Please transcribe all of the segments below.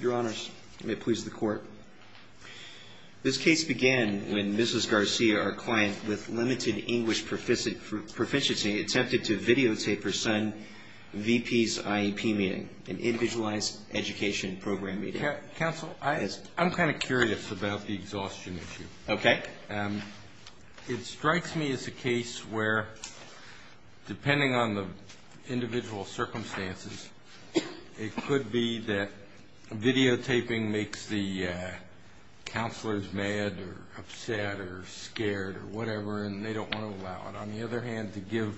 Your Honors, may it please the Court. This case began when Mrs. Garcia, our client, with limited English proficiency, attempted to videotape her son, V.P.'s IEP meeting, an Individualized Education Program meeting. Counsel, I'm kind of curious about the exhaustion issue. Okay. It strikes me as a case where, depending on the individual circumstances, it could be that videotaping makes the counselors mad or upset or scared or whatever, and they don't want to allow it. On the other hand, to give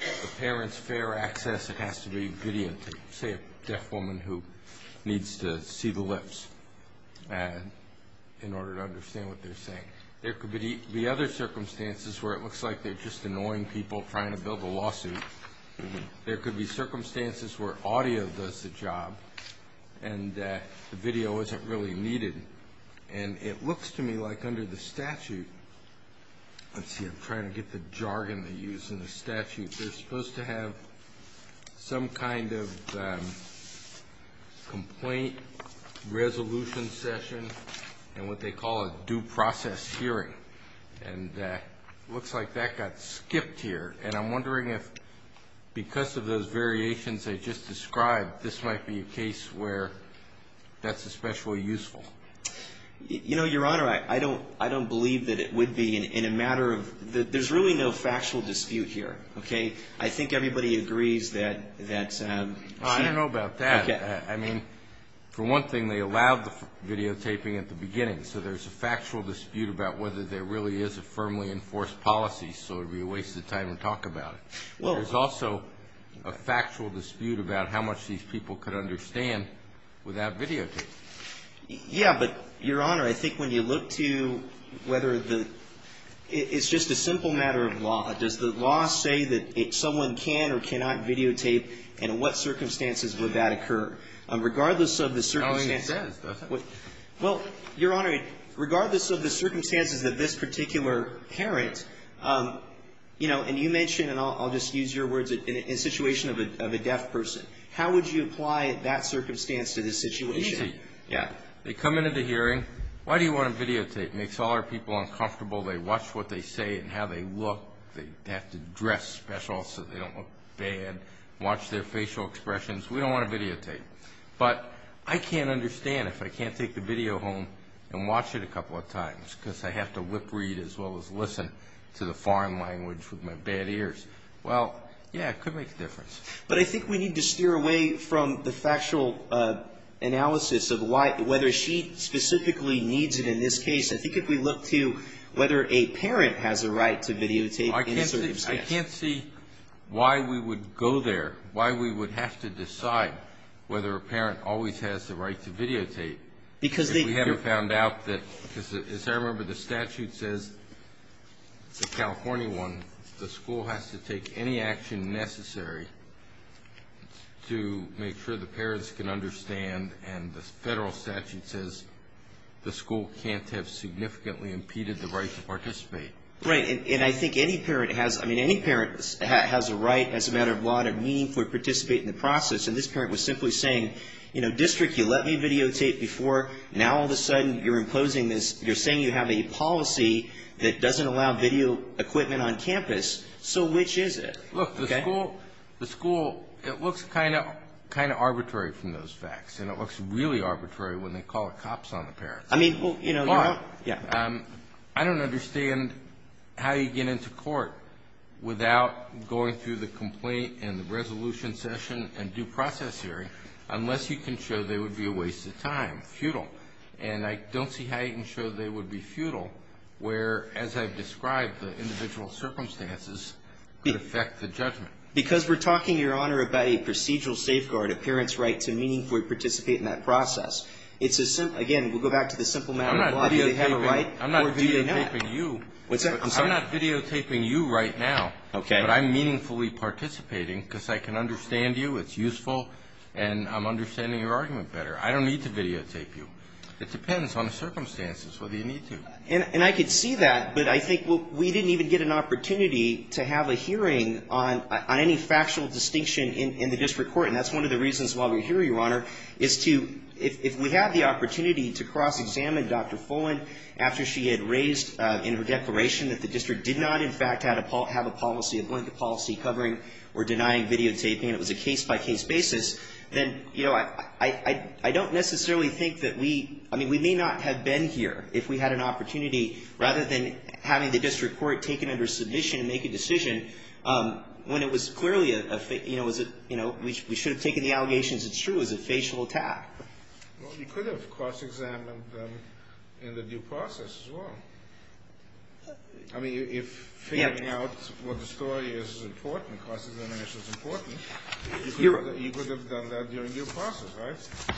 the parents fair access, it has to be videotaped, say a deaf woman who needs to see the lips in order to understand what they're saying. There could be other circumstances where it looks like they're just annoying people trying to build a lawsuit. There could be circumstances where audio does the job and the video isn't really needed. And it looks to me like under the statute, let's see, I'm trying to get the jargon to use in the statute. They're supposed to have some kind of complaint resolution session and what they call a due process hearing. And it looks like that got skipped here. And I'm wondering if because of those variations I just described, this might be a case where that's especially useful. You know, Your Honor, I don't believe that it would be in a matter of – there's really no factual dispute here, okay? I think everybody agrees that she – I don't know about that. Okay. I mean, for one thing, they allowed the videotaping at the beginning. So there's a factual dispute about whether there really is a firmly enforced policy. So it would be a waste of time to talk about it. There's also a factual dispute about how much these people could understand without videotaping. Yeah, but, Your Honor, I think when you look to whether the – it's just a simple matter of law. Does the law say that someone can or cannot videotape, and in what circumstances would that occur? Regardless of the circumstances – It doesn't say, does it? Well, Your Honor, regardless of the circumstances that this particular parent, you know, and you mentioned, and I'll just use your words, in a situation of a deaf person, how would you apply that circumstance to this situation? Easy. Yeah. They come into the hearing. Why do you want to videotape? It makes all our people uncomfortable. They watch what they say and how they look. They have to dress special so they don't look bad. Watch their facial expressions. We don't want to videotape. But I can't understand if I can't take the video home and watch it a couple of times because I have to whip read as well as listen to the foreign language with my bad ears. Well, yeah, it could make a difference. But I think we need to steer away from the factual analysis of why – whether she specifically needs it in this case. I think if we look to whether a parent has a right to videotape in a circumstance. I can't see why we would go there, why we would have to decide whether a parent always has the right to videotape. Because they – We haven't found out that – because as I remember, the statute says, the California one, the school has to take any action necessary to make sure the parents can understand, and the federal statute says the school can't have significantly impeded the right to participate. Right. And I think any parent has – I mean, any parent has a right as a matter of law to meaningfully participate in the process. And this parent was simply saying, you know, district, you let me videotape before. Now all of a sudden you're imposing this – you're saying you have a policy that doesn't allow video equipment on campus. So which is it? Look, the school – it looks kind of arbitrary from those facts, and it looks really arbitrary when they call the cops on the parents. I mean, you know – Mark, I don't understand how you get into court without going through the complaint and the resolution session and due process hearing, unless you can show they would be a waste of time, futile. And I don't see how you can show they would be futile where, as I've described, the individual circumstances could affect the judgment. Because we're talking, Your Honor, about a procedural safeguard, a parent's right to meaningfully participate in that process. It's a – again, we'll go back to the simple matter of why they have a right. I'm not videotaping you. I'm not videotaping you right now. Okay. But I'm meaningfully participating because I can understand you, it's useful, and I'm understanding your argument better. I don't need to videotape you. It depends on the circumstances whether you need to. And I could see that, but I think, well, we didn't even get an opportunity to have a hearing on any factual distinction in the district court. And that's one of the reasons why we're here, Your Honor, is to – if we have the opportunity to cross-examine Dr. Fullen after she had raised in her declaration that the district did not, in fact, have a policy, a blanket policy covering or denying videotaping, it was a case-by-case basis, then, you know, I don't necessarily think that we – rather than having the district court take it under submission and make a decision when it was clearly a – you know, was it – you know, we should have taken the allegation as it's true, it was a facial attack. Well, you could have cross-examined them in the due process as well. I mean, if figuring out what the story is is important, cross-examination is important, you could have done that during due process, right?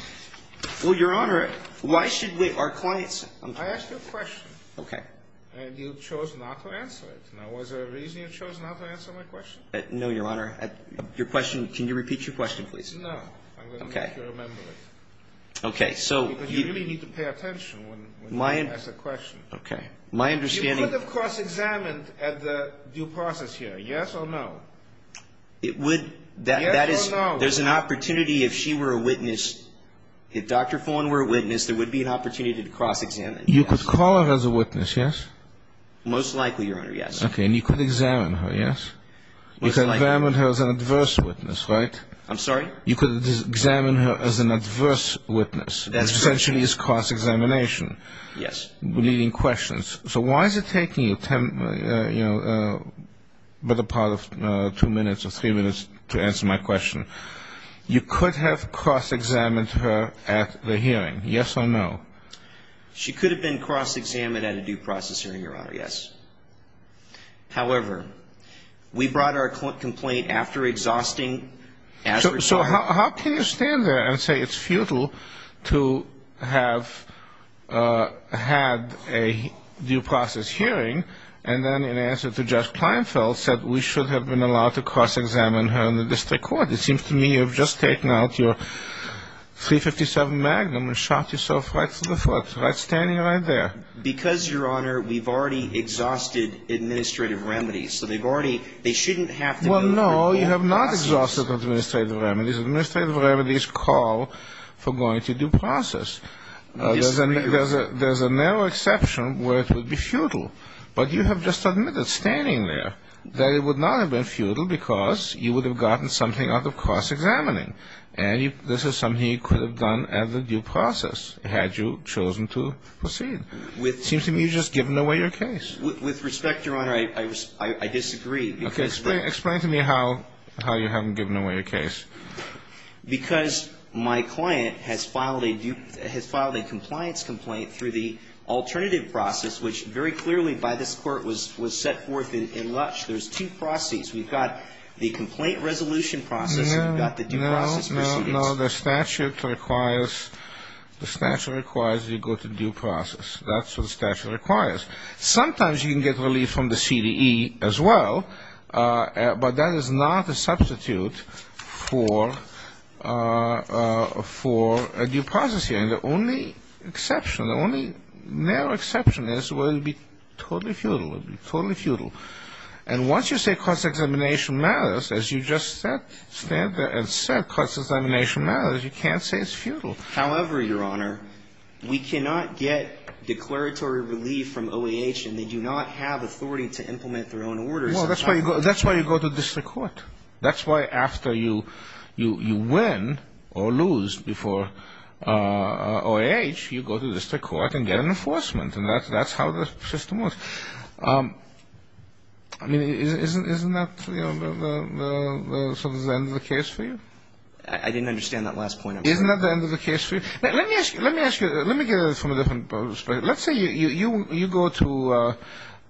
Well, Your Honor, why should we – our clients – I asked you a question. Okay. And you chose not to answer it. Now, was there a reason you chose not to answer my question? No, Your Honor. Your question – can you repeat your question, please? No. Okay. I'm going to make you remember it. Okay, so – Because you really need to pay attention when you ask a question. Okay. My understanding – You could have cross-examined at the due process here, yes or no? It would – that is – Yes or no? There's an opportunity if she were a witness – if Dr. Fullen were a witness, there would be an opportunity to cross-examine, yes. You could call her as a witness, yes? Most likely, Your Honor, yes. Okay. And you could examine her, yes? Most likely. You could examine her as an adverse witness, right? I'm sorry? You could examine her as an adverse witness. That's true. Essentially, it's cross-examination. Yes. Leading questions. So why is it taking you, you know, a better part of two minutes or three minutes to answer my question? You could have cross-examined her at the hearing, yes or no? She could have been cross-examined at a due process hearing, Your Honor, yes. However, we brought our complaint after exhausting – So how can you stand there and say it's futile to have had a due process hearing and then in answer to Judge Pleinfeld said we should have been allowed to cross-examine her in the district court? It seems to me you have just taken out your .357 Magnum and shot yourself right through the foot, right? Standing right there. Because, Your Honor, we've already exhausted administrative remedies. So they've already – they shouldn't have to – Well, no, you have not exhausted administrative remedies. Administrative remedies call for going to due process. There's a narrow exception where it would be futile. But you have just admitted standing there that it would not have been futile because you would have gotten something out of cross-examining. And this is something you could have done at the due process had you chosen to proceed. It seems to me you've just given away your case. With respect, Your Honor, I disagree. Explain to me how you haven't given away your case. Because my client has filed a due – has filed a compliance complaint through the alternative process, which very clearly by this Court was set forth in Lutsch. There's two processes. We've got the complaint resolution process and we've got the due process proceedings. No, no, no. The statute requires you go to due process. That's what the statute requires. Sometimes you can get relief from the CDE as well, but that is not a substitute for a due process hearing. The only exception, the only narrow exception is where it would be totally futile, would be totally futile. And once you say cross-examination matters, as you just said, stand there and said cross-examination matters, you can't say it's futile. However, Your Honor, we cannot get declaratory relief from OAH and they do not have authority to implement their own orders. Well, that's why you go to district court. That's why after you win or lose before OAH, you go to district court and get an enforcement. And that's how the system works. I mean, isn't that sort of the end of the case for you? I didn't understand that last point. Isn't that the end of the case for you? Let me ask you, let me get it from a different perspective. Let's say you go to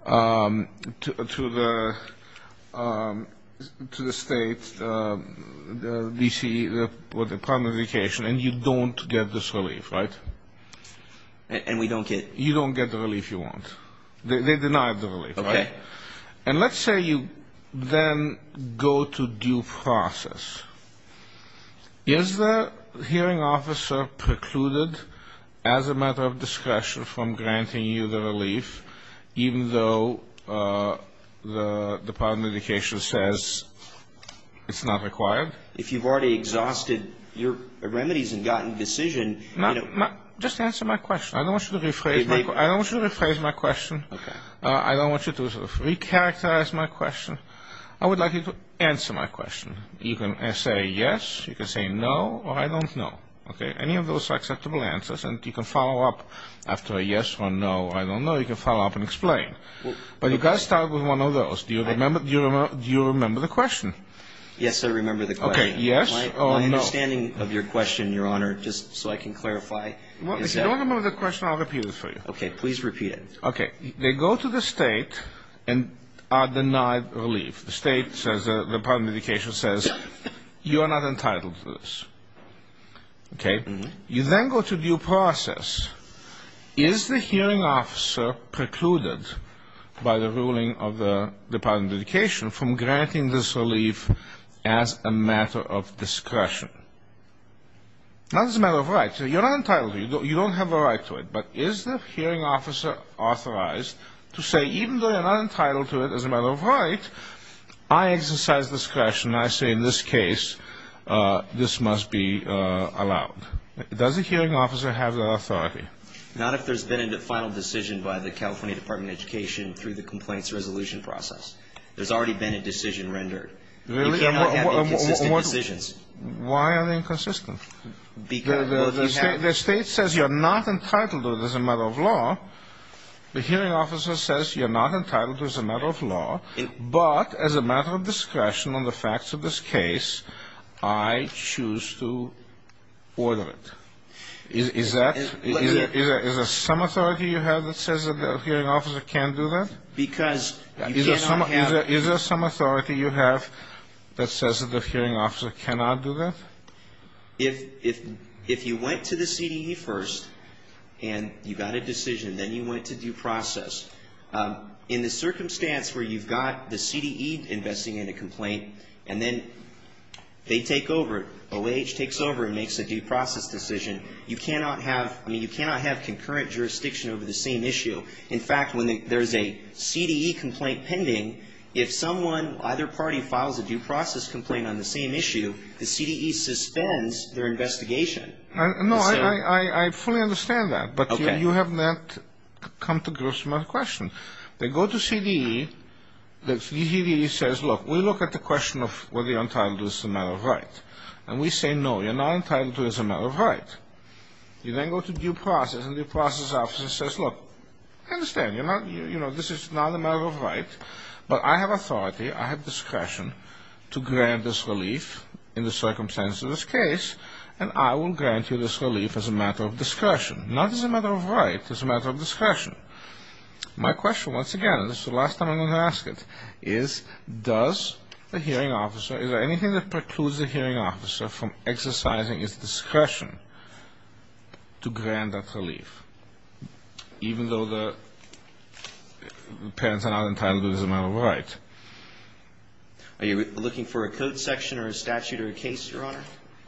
the state, the D.C., the Department of Education, and you don't get this relief, right? And we don't get it. You don't get the relief you want. They deny the relief, right? Okay. And let's say you then go to due process. Is the hearing officer precluded as a matter of discretion from granting you the relief, even though the Department of Education says it's not required? If you've already exhausted your remedies and gotten decision, you know. Just answer my question. I don't want you to rephrase my question. Okay. I don't want you to recharacterize my question. I would like you to answer my question. You can say yes, you can say no, or I don't know. Okay? Any of those are acceptable answers, and you can follow up after a yes or a no, or I don't know, you can follow up and explain. But you've got to start with one of those. Do you remember the question? Yes, I remember the question. Okay. Yes or no? My understanding of your question, Your Honor, just so I can clarify. If you don't remember the question, I'll repeat it for you. Okay. Please repeat it. Okay. They go to the State and are denied relief. The State says, the Department of Education says, you are not entitled to this. Okay? You then go to due process. Is the hearing officer precluded by the ruling of the Department of Education from granting this relief as a matter of discretion? Not as a matter of right. You're not entitled to it. You don't have a right to it. But is the hearing officer authorized to say, even though you're not entitled to it as a matter of right, I exercise discretion. I say in this case, this must be allowed. Does the hearing officer have that authority? Not if there's been a final decision by the California Department of Education through the complaints resolution process. There's already been a decision rendered. Really? You cannot have inconsistent decisions. Why are they inconsistent? The State says you're not entitled to it as a matter of law. The hearing officer says you're not entitled to it as a matter of law. But as a matter of discretion on the facts of this case, I choose to order it. Is that ñ is there some authority you have that says that the hearing officer can't do that? Because you cannot have ñ Is there some authority you have that says that the hearing officer cannot do that? If you went to the CDE first and you got a decision, then you went to due process, in the circumstance where you've got the CDE investing in a complaint and then they take over, OAH takes over and makes a due process decision, you cannot have concurrent jurisdiction over the same issue. In fact, when there's a CDE complaint pending, if someone, either party, files a due process complaint on the same issue, the CDE suspends their investigation. No, I fully understand that. Okay. But you have not come to grips with my question. They go to CDE. The CDE says, look, we look at the question of whether you're entitled to it as a matter of right. And we say, no, you're not entitled to it as a matter of right. You then go to due process, and the due process officer says, look, I understand. You're not ñ you know, this is not a matter of right. But I have authority, I have discretion to grant this relief in the circumstances of this case, and I will grant you this relief as a matter of discretion. Not as a matter of right, as a matter of discretion. My question, once again, and this is the last time I'm going to ask it, is does the hearing officer, is there anything that precludes the hearing officer from exercising its discretion to grant that relief? Even though the parents are not entitled to it as a matter of right. Are you looking for a code section or a statute or a case, Your Honor?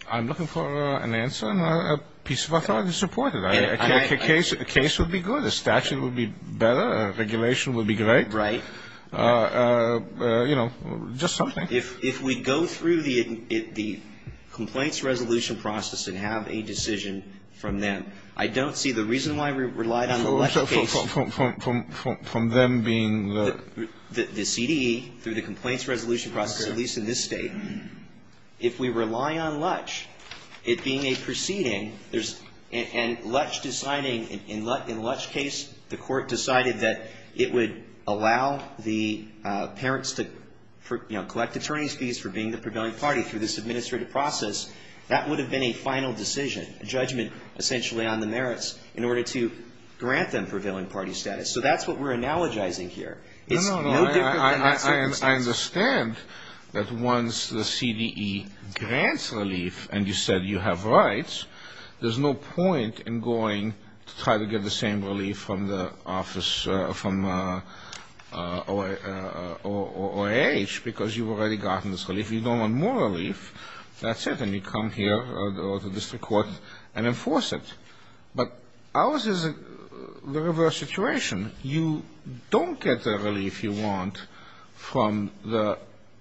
I'm looking for an answer and a piece of authority to support it. A case would be good. A statute would be better. A regulation would be great. Right. You know, just something. If we go through the complaints resolution process and have a decision from them, I don't see the reason why we relied on the Lutch case. From them being the ñ The CDE, through the complaints resolution process, at least in this State, if we rely on Lutch, it being a proceeding, there's ñ and Lutch deciding ñ in Lutchís case, the court decided that it would allow the parents to, you know, collect attorneyís fees for being the prevailing party through this administrative process. That would have been a final decision. A judgment essentially on the merits in order to grant them prevailing party status. So that's what we're analogizing here. It's no different than that circumstance. No, no, no. I understand that once the CDE grants relief and you said you have rights, there's no point in going to try to get the same relief from the office, from OIH because you've already gotten this relief. You don't want more relief. That's it. Then you come here or the district court and enforce it. But ours is the reverse situation. You don't get the relief you want from the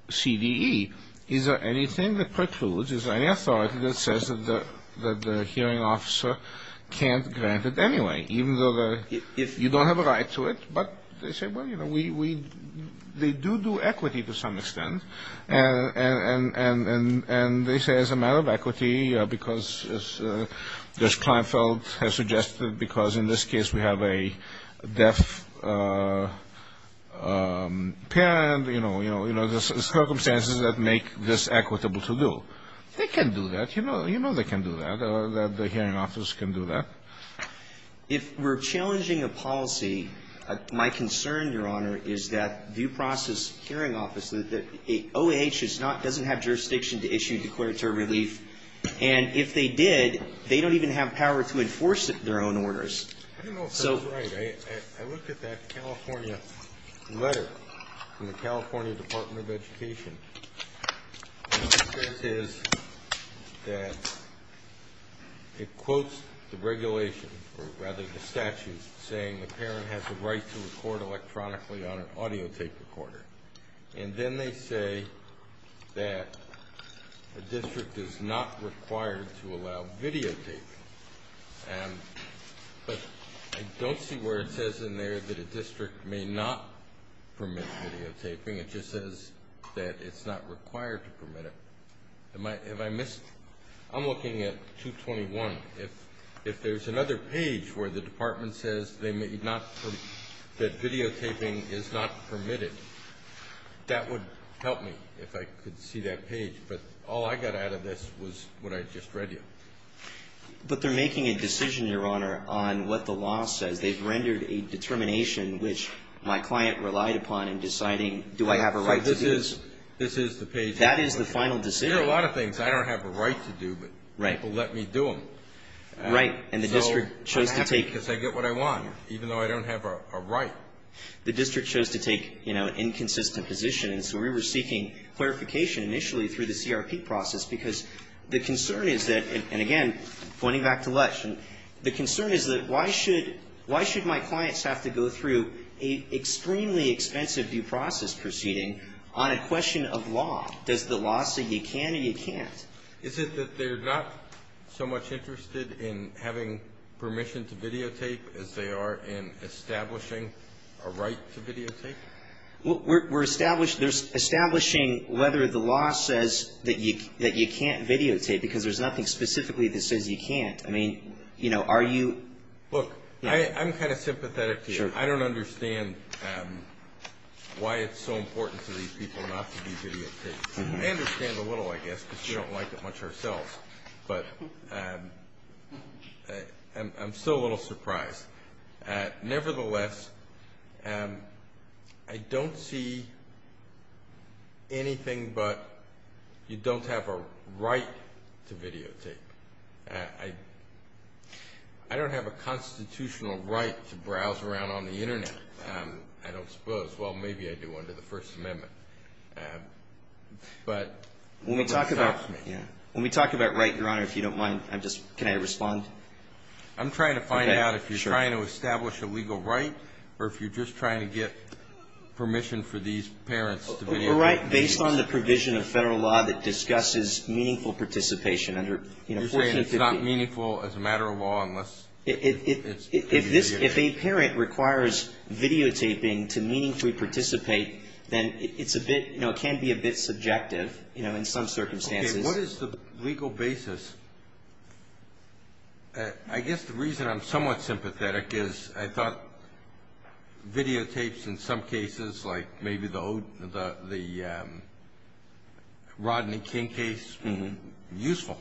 CDE. Is there anything that precludes, is there any authority that says that the hearing officer can't grant it anyway, even though you don't have a right to it? But they say, well, you know, we ñ they do do equity to some extent. And they say as a matter of equity, because as Judge Kleinfeld has suggested, because in this case we have a deaf parent, you know, you know, there's circumstances that make this equitable to do. They can do that. You know they can do that, that the hearing office can do that. If we're challenging a policy, my concern, Your Honor, is that due process hearing office, that OIH is not, doesn't have jurisdiction to issue declaratory relief. And if they did, they don't even have power to enforce their own orders. I don't know if that's right. I looked at that California letter from the California Department of Education. What it says is that it quotes the regulation, or rather the statute, saying the parent has the right to record electronically on an audio tape recorder. And then they say that the district is not required to allow videotaping. But I don't see where it says in there that a district may not permit videotaping. It just says that it's not required to permit it. Have I missed ñ I'm looking at 221. If there's another page where the department says that videotaping is not permitted, that would help me if I could see that page. But all I got out of this was what I just read you. But they're making a decision, Your Honor, on what the law says. They've rendered a determination which my client relied upon in deciding, do I have a right to do this? This is the page. That is the final decision. There are a lot of things I don't have a right to do, but people let me do them. Right. And the district chose to take ñ Because I get what I want, even though I don't have a right. The district chose to take, you know, an inconsistent position. And so we were seeking clarification initially through the CRP process, because the concern is that ñ and again, pointing back to Lesch. And the concern is that why should my clients have to go through an extremely expensive due process proceeding on a question of law? Does the law say you can or you can't? Is it that they're not so much interested in having permission to videotape as they are in establishing a right to videotape? We're establishing whether the law says that you can't videotape, because there's nothing specifically that says you can't. I mean, you know, are you ñ Look, I'm kind of sympathetic to you. I don't understand why it's so important to these people not to do videotapes. I understand a little, I guess, because we don't like it much ourselves. But I'm still a little surprised. Nevertheless, I don't see anything but you don't have a right to videotape. I don't have a constitutional right to browse around on the Internet, I don't suppose. Well, maybe I do under the First Amendment. But what stops me? When we talk about right, Your Honor, if you don't mind, I'm just ñ can I respond? I'm trying to find out if you're trying to establish a legal right or if you're just trying to get permission for these parents to videotape. We're right based on the provision of Federal law that discusses meaningful participation under, you know, 1450. You're saying it's not meaningful as a matter of law unless it's videotaped. If a parent requires videotaping to meaningfully participate, then it's a bit, you know, it can be a bit subjective, you know, in some circumstances. Okay, what is the legal basis? I guess the reason I'm somewhat sympathetic is I thought videotapes in some cases, like maybe the Rodney King case, useful.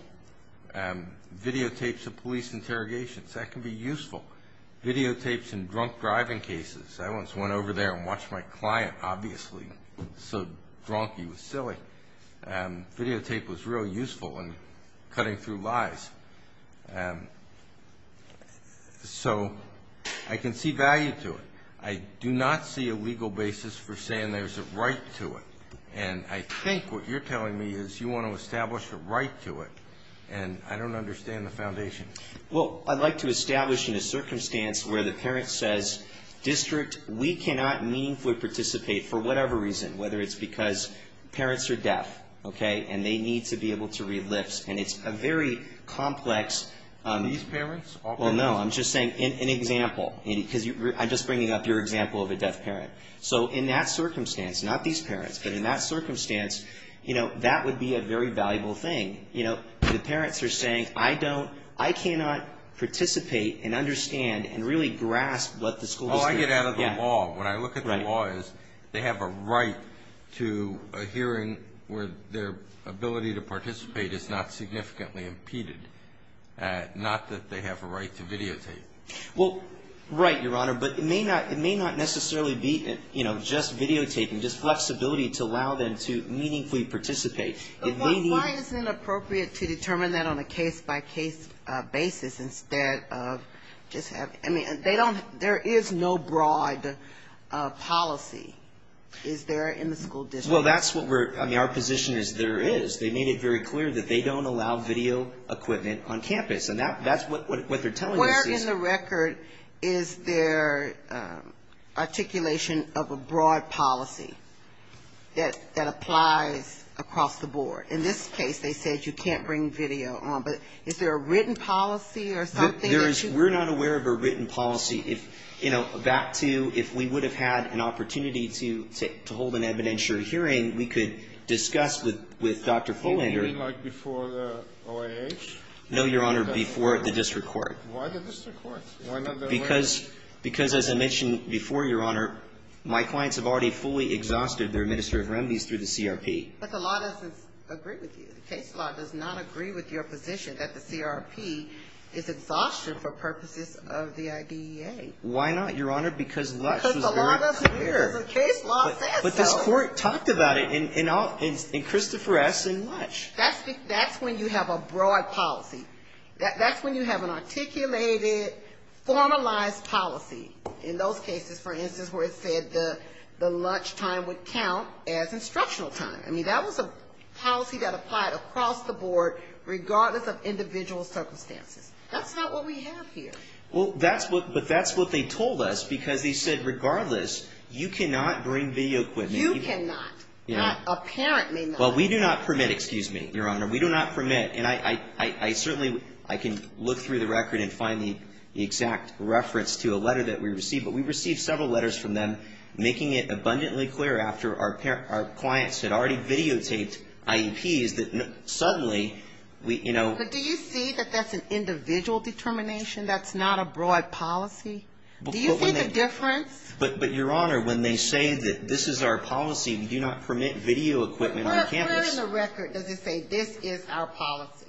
Videotapes of police interrogations, that can be useful. Videotapes in drunk driving cases. I once went over there and watched my client, obviously so drunk he was silly. Videotape was real useful in cutting through lies. So I can see value to it. I do not see a legal basis for saying there's a right to it. And I think what you're telling me is you want to establish a right to it. And I don't understand the foundation. Well, I'd like to establish in a circumstance where the parent says, District, we cannot meaningfully participate for whatever reason, whether it's because parents are deaf, okay, and they need to be able to read lips. And it's a very complex. These parents? Well, no, I'm just saying an example. I'm just bringing up your example of a deaf parent. So in that circumstance, not these parents, but in that circumstance, you know, that would be a very valuable thing. You know, the parents are saying, I don't, I cannot participate and understand and really grasp what the school is doing. All I get out of the law, when I look at the law, is they have a right to a hearing where their ability to participate is not significantly impeded, not that they have a right to videotape. Well, right, Your Honor, but it may not necessarily be, you know, just videotaping, just flexibility to allow them to meaningfully participate. Why isn't it appropriate to determine that on a case-by-case basis instead of just having, I mean, they don't, there is no broad policy, is there, in the school district? Well, that's what we're, I mean, our position is there is. They made it very clear that they don't allow video equipment on campus. And that's what they're telling us is. Where in the record is there articulation of a broad policy that applies across the board? In this case, they said you can't bring video on. But is there a written policy or something? There is. We're not aware of a written policy. If, you know, back to if we would have had an opportunity to hold an evidentiary hearing, we could discuss with Dr. Follinger. You mean like before the OIH? No, Your Honor, before the district court. Why the district court? Because, as I mentioned before, Your Honor, my clients have already fully exhausted their administrative remedies through the CRP. But the law doesn't agree with you. The case law does not agree with your position that the CRP is exhaustion for purposes of the IDEA. Why not, Your Honor? Because Lush was very clear. Because the law doesn't care. The case law says so. But this Court talked about it in Christopher S. and Lush. That's when you have a broad policy. That's when you have an articulated, formalized policy. In those cases, for instance, where it said the lunch time would count as instructional time. I mean, that was a policy that applied across the board regardless of individual circumstances. That's not what we have here. Well, but that's what they told us because they said regardless, you cannot bring video equipment. You cannot. Apparently not. Well, we do not permit. Excuse me, Your Honor. We do not permit. And I certainly can look through the record and find the exact reference to a letter that we received. But we received several letters from them making it abundantly clear after our clients had already videotaped IEPs that suddenly, you know. But do you see that that's an individual determination? That's not a broad policy? Do you see the difference? But, Your Honor, when they say that this is our policy, we do not permit video equipment on campus. Where in the record does it say this is our policy?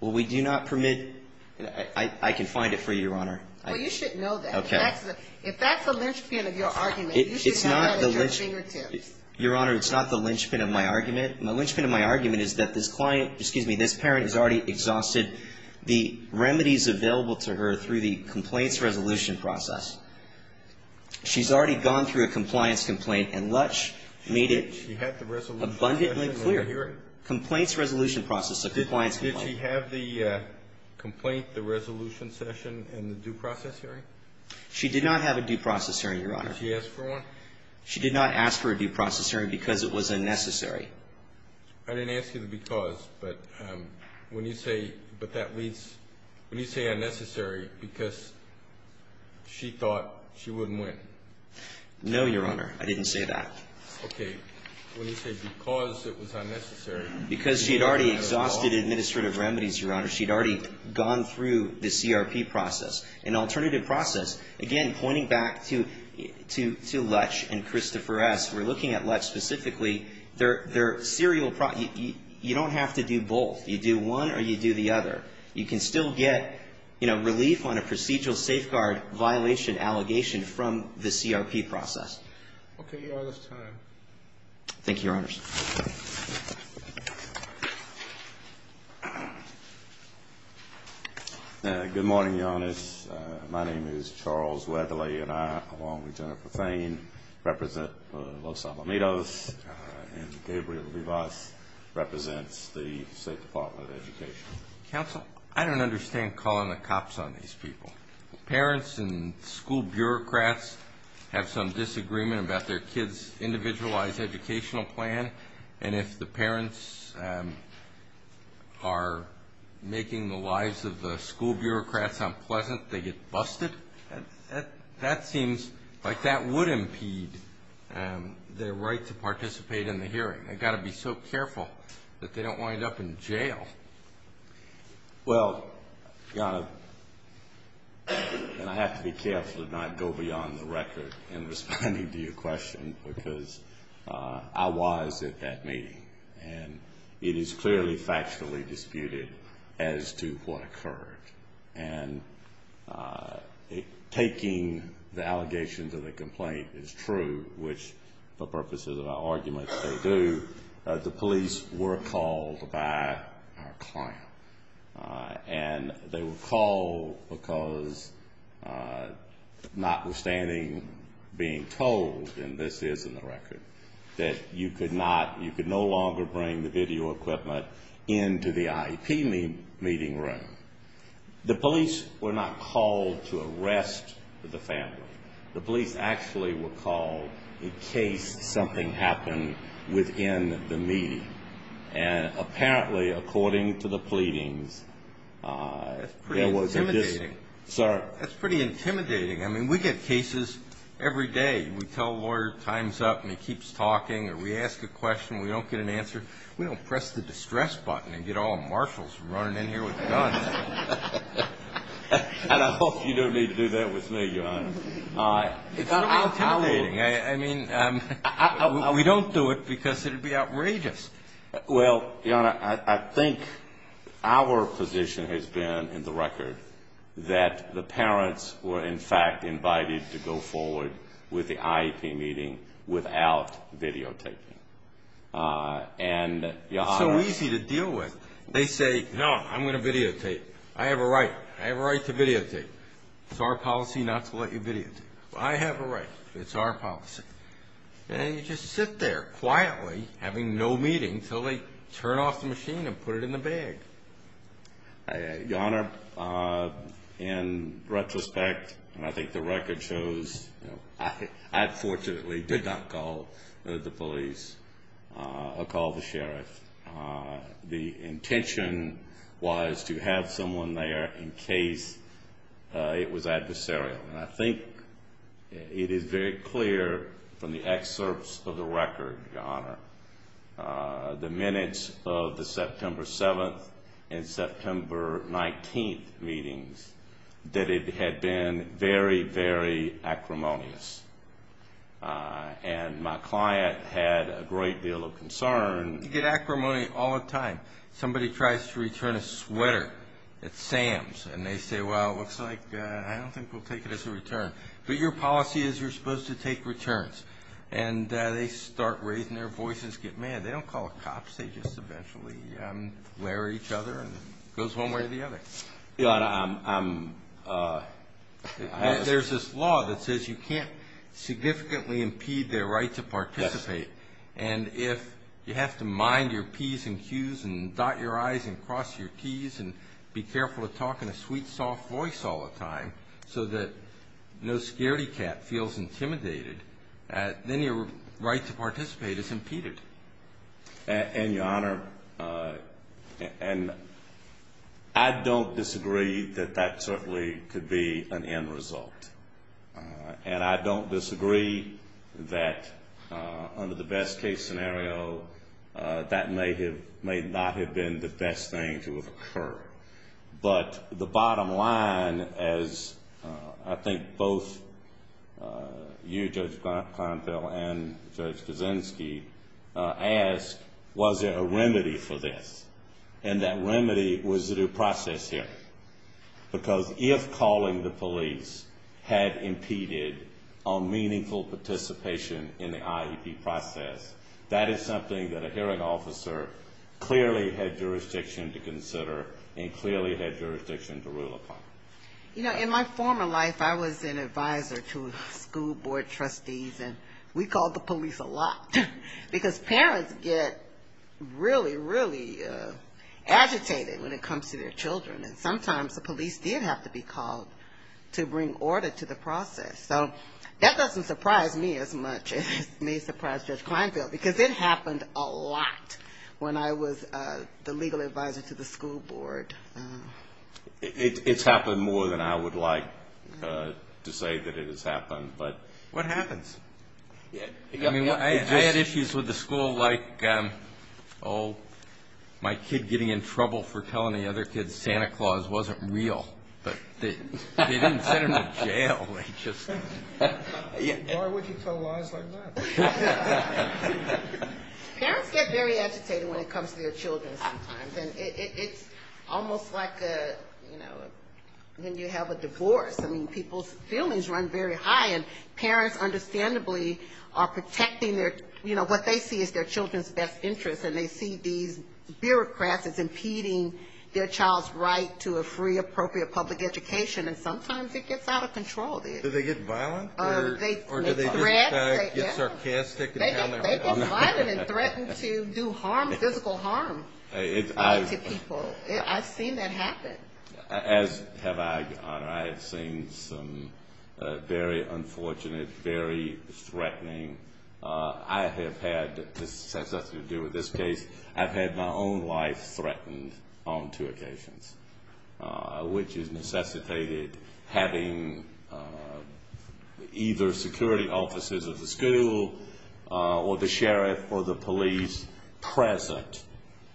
Well, we do not permit. I can find it for you, Your Honor. Well, you should know that. Okay. If that's a linchpin of your argument, you should have that at your fingertips. Your Honor, it's not the linchpin of my argument. The linchpin of my argument is that this client, excuse me, this parent has already exhausted the remedies available to her through the complaints resolution process. She's already gone through a compliance complaint and Lutch made it. She had the resolution session and the hearing? Abundantly clear. Complaints resolution process, a compliance complaint. Did she have the complaint, the resolution session, and the due process hearing? She did not have a due process hearing, Your Honor. Did she ask for one? She did not ask for a due process hearing because it was unnecessary. I didn't ask you the because. But when you say unnecessary because she thought she wouldn't win. No, Your Honor. I didn't say that. Okay. When you say because it was unnecessary. Because she had already exhausted administrative remedies, Your Honor. She had already gone through the CRP process. An alternative process, again, pointing back to Lutch and Christopher S., we're looking at Lutch specifically. They're serial. You don't have to do both. You do one or you do the other. You can still get, you know, relief on a procedural safeguard violation allegation from the CRP process. Okay, Your Honor. That's time. Thank you, Your Honors. Good morning, Your Honors. My name is Charles Weatherly, and I, along with Jennifer Thain, represent Los Alamitos, and Gabriel Rivas represents the State Department of Education. Counsel, I don't understand calling the cops on these people. Parents and school bureaucrats have some disagreement about their kids' individualized educational plan, and if the parents are making the lives of the school bureaucrats unpleasant, they get busted. That seems like that would impede their right to participate in the hearing. They've got to be so careful that they don't wind up in jail. Well, Your Honor, and I have to be careful to not go beyond the record in responding to your question because I was at that meeting, and it is clearly factually disputed as to what occurred. And taking the allegation to the complaint is true, which for purposes of our argument they do, the police were called by our client. And they were called because notwithstanding being told, and this is in the record, that you could not, you could no longer bring the video equipment into the IEP meeting room. The police were not called to arrest the family. The police actually were called in case something happened within the meeting. And apparently, according to the pleadings, there was a dispute. Sir? That's pretty intimidating. I mean, we get cases every day. We tell a lawyer time's up and he keeps talking, or we ask a question and we don't get an answer. We don't press the distress button and get all marshals running in here with guns. And I hope you don't need to do that with me, Your Honor. It's pretty intimidating. I mean, we don't do it because it would be outrageous. Well, Your Honor, I think our position has been in the record that the parents were, in fact, invited to go forward with the IEP meeting without videotaping. And, Your Honor. It's so easy to deal with. They say, no, I'm going to videotape. I have a right. I have a right to videotape. It's our policy not to let you videotape. Well, I have a right. It's our policy. And you just sit there quietly, having no meeting, until they turn off the machine and put it in the bag. Your Honor, in retrospect, and I think the record shows, I fortunately did not call the police or call the sheriff. The intention was to have someone there in case it was adversarial. And I think it is very clear from the excerpts of the record, Your Honor, the minutes of the September 7th and September 19th meetings that it had been very, very acrimonious. And my client had a great deal of concern. You get acrimony all the time. Somebody tries to return a sweater at Sam's, and they say, well, it looks like I don't think we'll take it as a return. But your policy is you're supposed to take returns. And they start raising their voices, get mad. They don't call the cops. They just eventually glare at each other and it goes one way or the other. Your Honor, I'm... There's this law that says you can't significantly impede their right to participate. And if you have to mind your P's and Q's and dot your I's and cross your T's and be careful of talking a sweet, soft voice all the time so that no scaredy cat feels intimidated, then your right to participate is impeded. And, Your Honor, and I don't disagree that that certainly could be an end result. And I don't disagree that under the best case scenario, that may have, may not have been the best thing to have occurred. But the bottom line is I think both you, Judge Kleinfeld, and Judge Peralta asked, was there a remedy for this? And that remedy was the due process hearing. Because if calling the police had impeded on meaningful participation in the IEP process, that is something that a hearing officer clearly had jurisdiction to consider and clearly had jurisdiction to rule upon. You know, in my former life I was an advisor to school board trustees and we called the police a lot. Because parents get really, really agitated when it comes to their children. And sometimes the police did have to be called to bring order to the process. So that doesn't surprise me as much as it may surprise Judge Kleinfeld. Because it happened a lot when I was the legal advisor to the school board. It's happened more than I would like to say that it has happened. But what happens? I mean, I had issues with the school like, oh, my kid getting in trouble for telling the other kids Santa Claus wasn't real. But they didn't send him to jail. Why would you tell lies like that? Parents get very agitated when it comes to their children sometimes. And it's almost like, you know, when you have a divorce. I mean, people's feelings run very high. And parents understandably are protecting their, you know, what they see as their children's best interest. And they see these bureaucrats as impeding their child's right to a free, appropriate public education. And sometimes it gets out of control. Do they get violent? Or do they get sarcastic? They get violent and threaten to do harm, physical harm to people. I've seen that happen. As have I, Your Honor. I have seen some very unfortunate, very threatening. I have had, this has nothing to do with this case. I've had my own life threatened on two occasions, which has necessitated having either security officers of the school or the sheriff or the police present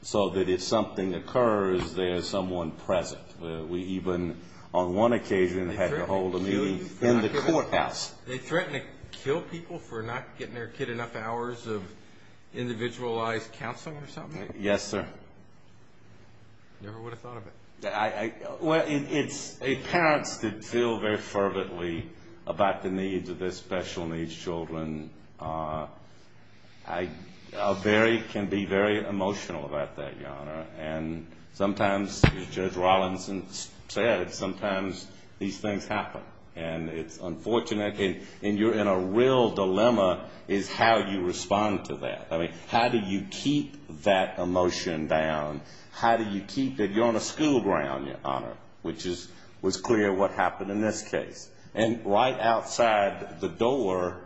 so that if something occurs, there is someone present. We even on one occasion had to hold a meeting in the courthouse. They threaten to kill people for not getting their kid enough hours of individualized counseling or something? Yes, sir. Never would have thought of it. Well, it's parents that feel very fervently about the needs of their special needs children. I can be very emotional about that, Your Honor. And sometimes, as Judge Rawlinson said, sometimes these things happen. And it's unfortunate. And you're in a real dilemma is how you respond to that. I mean, how do you keep that emotion down? How do you keep it? You're on a school ground, Your Honor, which was clear what happened in this case. And right outside the door,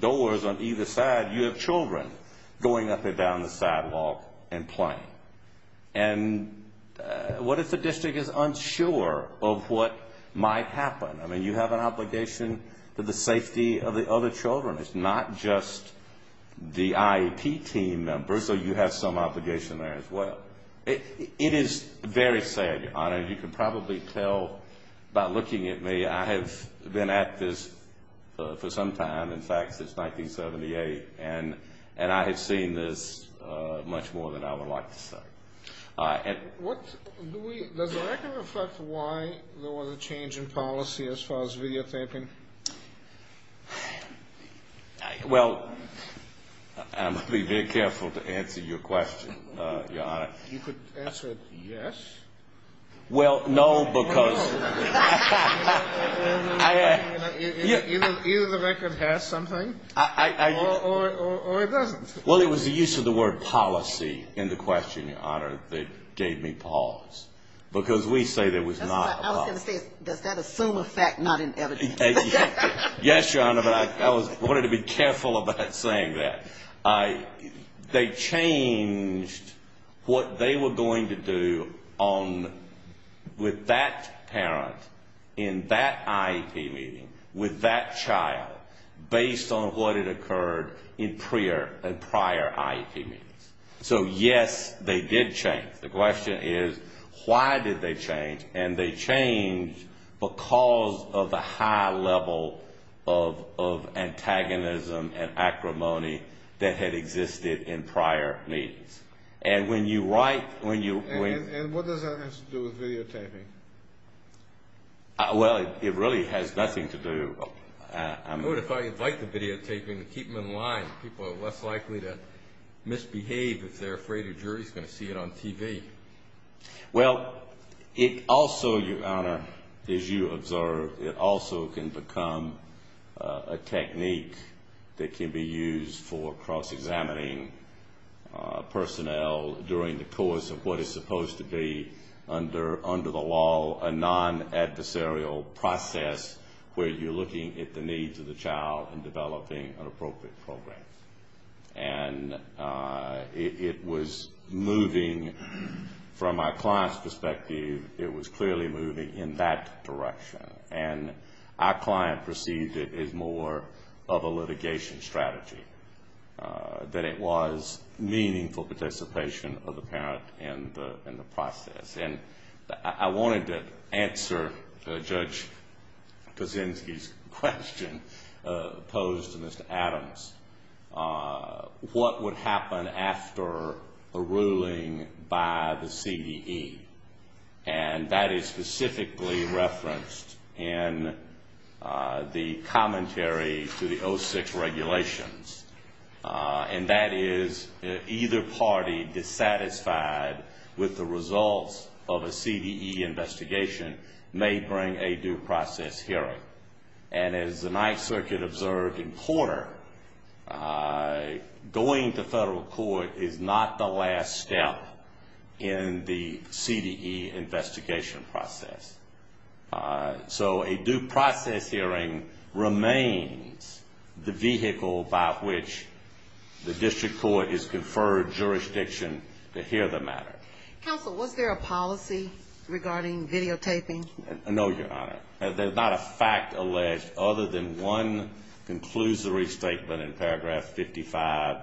doors on either side, you have children going up and down the sidewalk and playing. And what if the district is unsure of what might happen? I mean, you have an obligation to the safety of the other children. It's not just the IEP team members. So you have some obligation there as well. It is very sad, Your Honor. You can probably tell by looking at me. I have been at this for some time, in fact, since 1978. And I have seen this much more than I would like to say. Does the record reflect why there was a change in policy as far as videotaping? Well, I'm going to be very careful to answer your question, Your Honor. You could answer it yes. Well, no, because. Either the record has something or it doesn't. Well, it was the use of the word policy in the question, Your Honor, that gave me pause. Because we say there was not a lot. I was going to say, does that assume a fact not in evidence? Yes, Your Honor, but I wanted to be careful about saying that. They changed what they were going to do with that parent in that IEP meeting with that child based on what had occurred in prior IEP meetings. So, yes, they did change. The question is, why did they change? And they changed because of the high level of antagonism and acrimony that had existed in prior meetings. And when you write. And what does that have to do with videotaping? Well, it really has nothing to do. What if I invite the videotaping and keep them in line? People are less likely to misbehave if they're afraid a jury is going to see it on TV. Well, it also, Your Honor, as you observed, it also can become a technique that can be used for cross-examining personnel during the course of what is supposed to be under the law a non-adversarial process where you're looking at the needs of the child and developing an appropriate program. And it was moving from my client's perspective, it was clearly moving in that direction. And our client perceived it as more of a litigation strategy, that it was meaningful participation of the parent in the process. And I wanted to answer Judge Kaczynski's question posed to Mr. Adams. What would happen after a ruling by the CDE? And that is specifically referenced in the commentary to the 06 regulations. And that is either party dissatisfied with the results of a CDE investigation may bring a due process hearing. And as the Ninth Circuit observed in Porter, going to federal court is not the last step in the CDE investigation process. So a due process hearing remains the vehicle by which the district court has conferred jurisdiction to hear the matter. Counsel, was there a policy regarding videotaping? No, Your Honor. There's not a fact alleged other than one conclusory statement in paragraph 55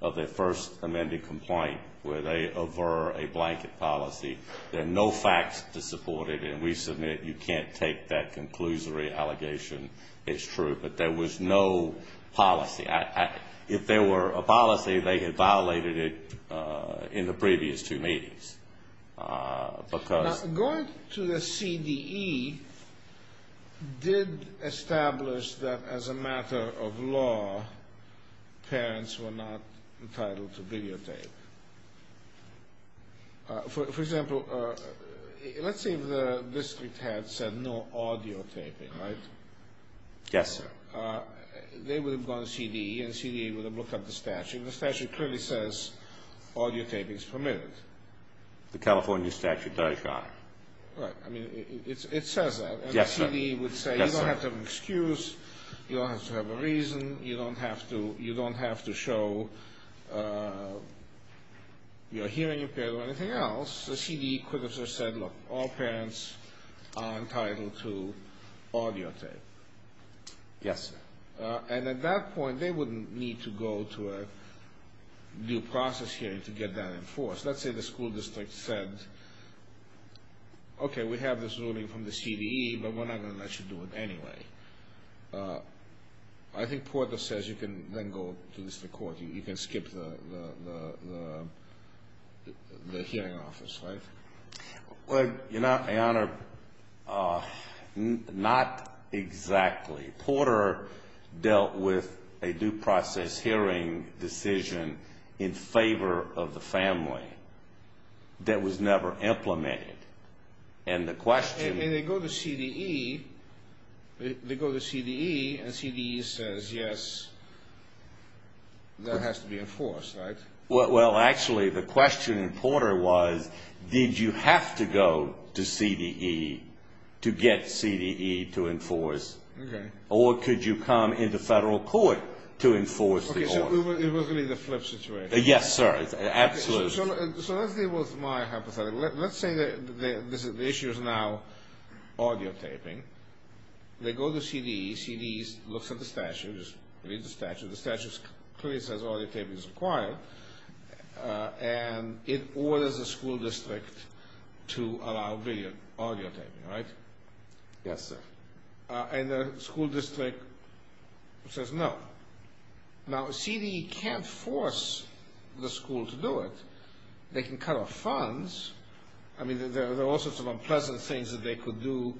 of the first amended complaint where they aver a blanket policy. There are no facts to support it. And we submit you can't take that conclusory allegation. It's true. But there was no policy. If there were a policy, they had violated it in the previous two meetings. Now, going to the CDE did establish that as a matter of law, parents were not entitled to videotape. For example, let's say the district had said no audio taping, right? Yes, sir. They would have gone to CDE, and CDE would have looked at the statute. The statute clearly says audio taping is permitted. The California statute does, Your Honor. Right. I mean, it says that. Yes, sir. And the CDE would say you don't have to have an excuse. You don't have to have a reason. You don't have to show you're hearing impaired or anything else. The CDE could have just said, look, all parents are entitled to audio tape. Yes, sir. And at that point, they wouldn't need to go to a due process hearing to get that enforced. Let's say the school district said, okay, we have this ruling from the CDE, but we're not going to let you do it anyway. I think Porter says you can then go to the district court. You can skip the hearing office, right? Well, Your Honor, not exactly. Porter dealt with a due process hearing decision in favor of the family that was never implemented. And the question was... And they go to CDE, and CDE says, yes, that has to be enforced, right? Well, actually, the question in Porter was did you have to go to CDE to get CDE to enforce? Okay. Or could you come into federal court to enforce the order? Okay, so it was really the flip situation. Yes, sir. Absolutely. So let's deal with my hypothetical. Let's say the issue is now audio taping. They go to CDE. CDE looks at the statute, reads the statute. The statute clearly says audio taping is required. And it orders the school district to allow video audio taping, right? Yes, sir. And the school district says no. Now, CDE can't force the school to do it. They can cut off funds. I mean, there are all sorts of unpleasant things that they could do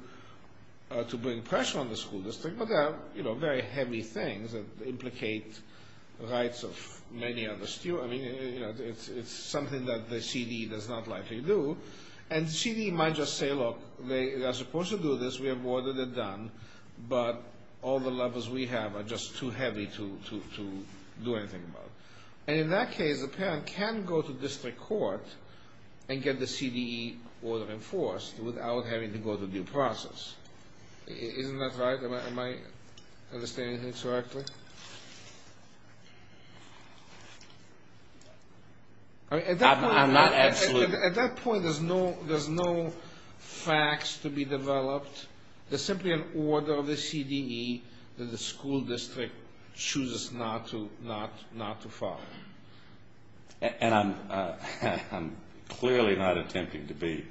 to bring pressure on the school district. But there are, you know, very heavy things that implicate rights of many other students. I mean, you know, it's something that the CDE does not likely do. And CDE might just say, look, they are supposed to do this. We have ordered it done. But all the levers we have are just too heavy to do anything about. And in that case, the parent can go to district court and get the CDE order enforced without having to go through due process. Isn't that right? Am I understanding this correctly? I'm not absolutely. At that point, there's no facts to be developed. There's simply an order of the CDE that the school district chooses not to follow. And I'm clearly not attempting to be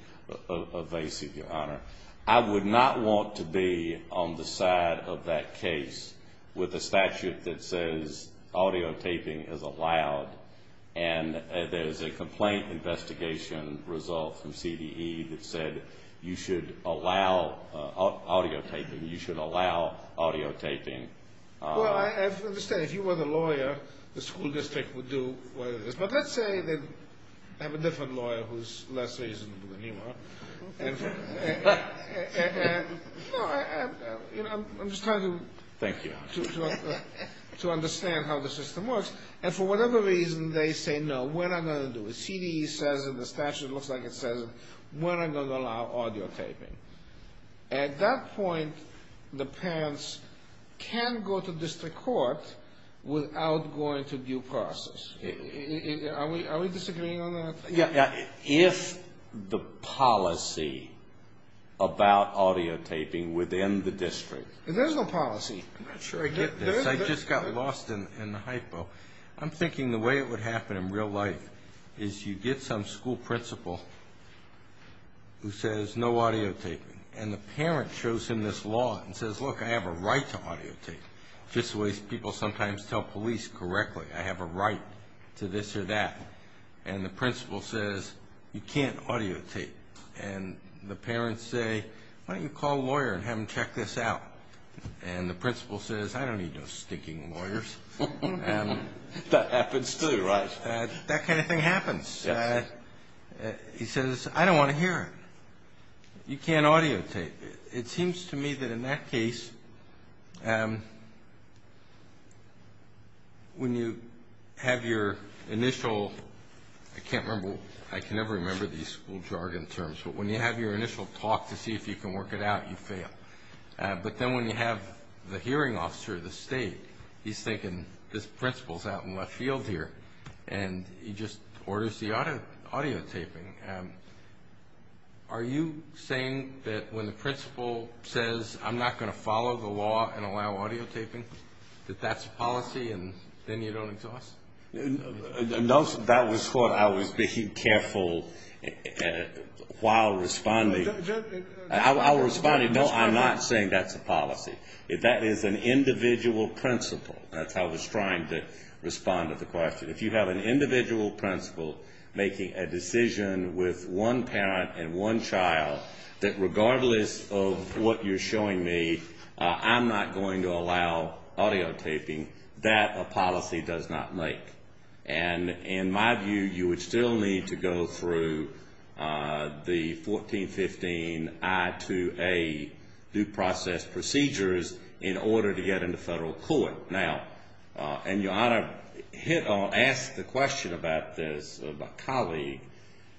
evasive, Your Honor. I would not want to be on the side of that case with a statute that says audio taping is allowed. And there's a complaint investigation result from CDE that said you should allow audio taping. You should allow audio taping. Well, I understand. If you were the lawyer, the school district would do what it is. But let's say they have a different lawyer who's less reasonable than you are. And, you know, I'm just trying to understand how the system works. And for whatever reason, they say, no, we're not going to do it. CDE says it. The statute looks like it says it. We're not going to allow audio taping. At that point, the parents can go to district court without going through due process. Are we disagreeing on that? If the policy about audio taping within the district. There's no policy. I'm not sure I get this. I just got lost in the hypo. I'm thinking the way it would happen in real life is you get some school principal who says no audio taping. And the parent shows him this law and says, look, I have a right to audio tape. Just the way people sometimes tell police correctly. I have a right to this or that. And the principal says, you can't audio tape. And the parents say, why don't you call a lawyer and have him check this out. And the principal says, I don't need no stinking lawyers. That happens too, right? That kind of thing happens. He says, I don't want to hear it. You can't audio tape. It seems to me that in that case, when you have your initial, I can't remember, I can never remember these school jargon terms, but when you have your initial talk to see if you can work it out, you fail. But then when you have the hearing officer of the state, he's thinking, this principal is out in left field here. And he just orders the audio taping. Are you saying that when the principal says, I'm not going to follow the law and allow audio taping, that that's policy and then you don't exhaust? No, that was thought. I was being careful while responding. I was responding, no, I'm not saying that's a policy. That is an individual principal. That's how I was trying to respond to the question. If you have an individual principal making a decision with one parent and one child that regardless of what you're showing me, I'm not going to allow audio taping, that a policy does not make. And in my view, you would still need to go through the 1415 I-2A due process procedures in order to get into federal court. Now, and your Honor, I'll ask the question about this of a colleague.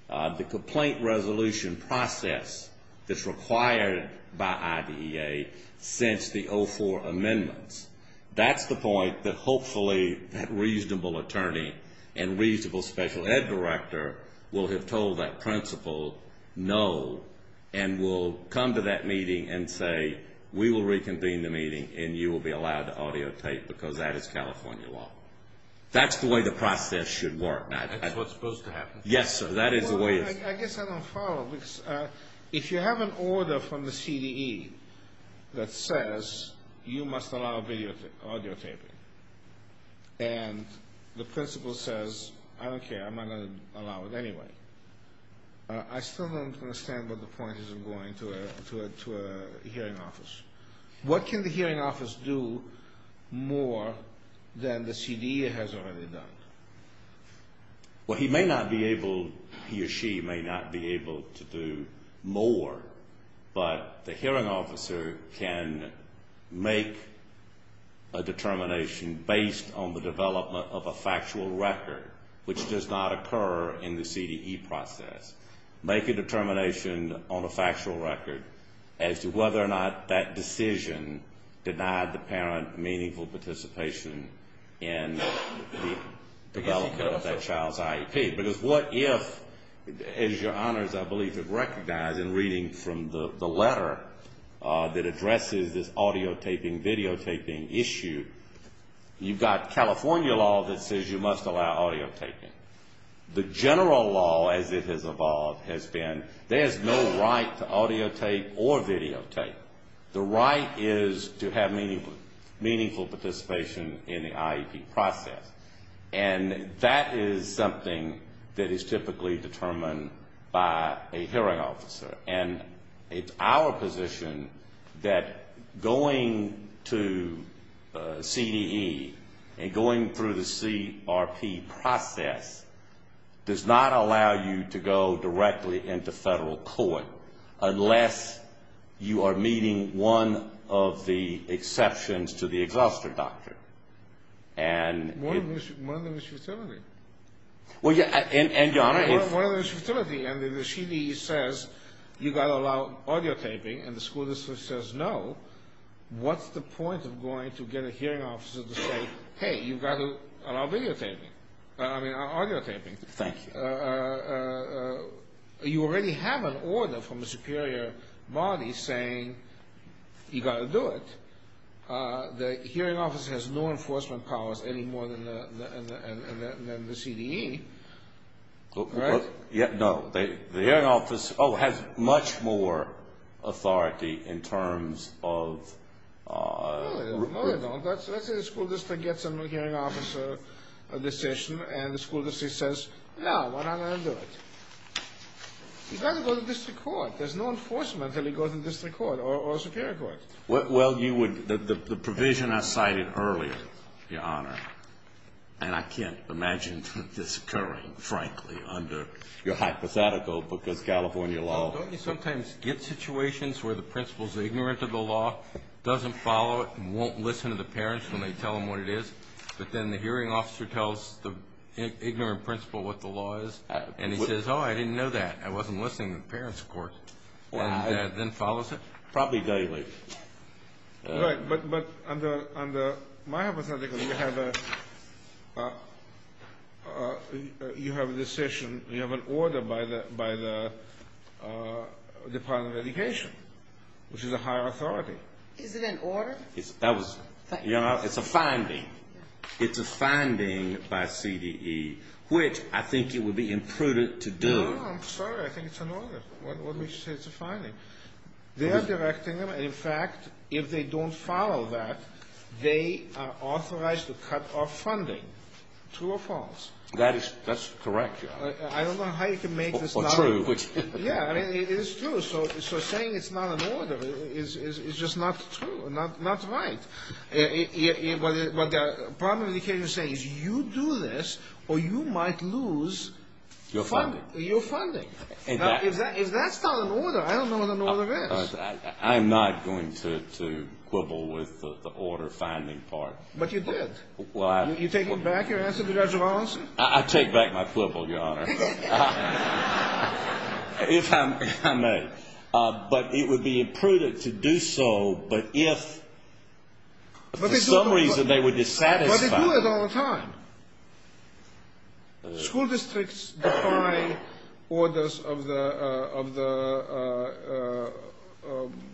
The complaint resolution process that's required by IDEA since the 04 amendments, that's the point that hopefully that reasonable attorney and reasonable special ed director will have told that principal no and will come to that meeting and say, we will reconvene the meeting and you will be allowed to audio tape because that is California law. That's the way the process should work. That's what's supposed to happen. Yes, sir. I guess I don't follow. If you have an order from the CDE that says you must allow audio taping and the principal says, I don't care, I'm going to allow it anyway. I still don't understand what the point is in going to a hearing office. What can the hearing office do more than the CDE has already done? Well, he may not be able, he or she may not be able to do more, but the hearing officer can make a determination based on the development of a factual record, which does not occur in the CDE process. Make a determination on a factual record as to whether or not that decision denied the parent meaningful participation in the development of that child's IEP. Because what if, as your honors I believe have recognized in reading from the letter that addresses this audio taping, video taping issue, you've got California law that says you must allow audio taping. The general law as it has evolved has been there's no right to audio tape or video tape. The right is to have meaningful participation in the IEP process. And that is something that is typically determined by a hearing officer. And it's our position that going to CDE and going through the CRP process does not allow you to go directly into federal court, unless you are meeting one of the exceptions to the Exhauster Doctrine. One of them is futility. Well, yeah, and your honors. One of them is futility, and the CDE says you've got to allow audio taping, and the school district says no. What's the point of going to get a hearing officer to say, hey, you've got to allow video taping, I mean audio taping. Thank you. You already have an order from the superior body saying you've got to do it. The hearing officer has no enforcement powers any more than the CDE. No, the hearing officer has much more authority in terms of... No, they don't. Let's say the school district gets a hearing officer decision, and the school district says, no, we're not going to do it. He's got to go to district court. There's no enforcement until he goes to district court or superior court. Well, the provision I cited earlier, your honor, and I can't imagine this occurring, frankly, under your hypothetical, because California law... But then the hearing officer tells the ignorant principal what the law is, and he says, oh, I didn't know that. I wasn't listening to the parents' court, and then follows it. Probably daily. Right, but under my hypothetical, you have a decision, you have an order by the Department of Education, which is a higher authority. Is it an order? That was, you know, it's a finding. It's a finding by CDE, which I think it would be imprudent to do. No, I'm sorry. I think it's an order. What makes you say it's a finding? They are directing them. In fact, if they don't follow that, they are authorized to cut off funding. True or false? That's correct, your honor. I don't know how you can make this not true. Or true. Yeah, I mean, it is true. So saying it's not an order is just not true, not right. What the Department of Education is saying is you do this, or you might lose your funding. If that's not an order, I don't know what an order is. I am not going to quibble with the order finding part. But you did. You're taking back your answer to Judge Robinson? I take back my quibble, your honor. If I may. But it would be imprudent to do so, but if for some reason they were dissatisfied. But they do it all the time. School districts defy orders of the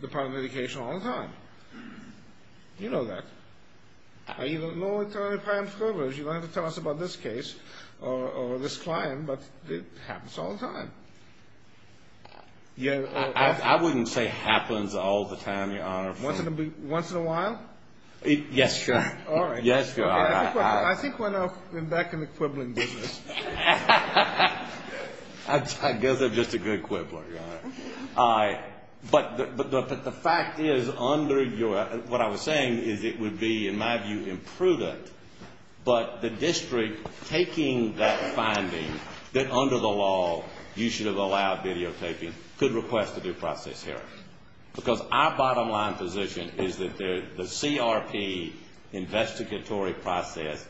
Department of Education all the time. You know that. You don't have to tell us about this case or this client, but it happens all the time. I wouldn't say happens all the time, your honor. Once in a while? Yes, your honor. I think we're now back in the quibbling business. I guess I'm just a good quibbler, your honor. But the fact is, what I was saying is it would be, in my view, imprudent, but the district taking that finding, that under the law you should have allowed videotaping, could request a due process hearing. Because our bottom line position is that the CRP investigatory process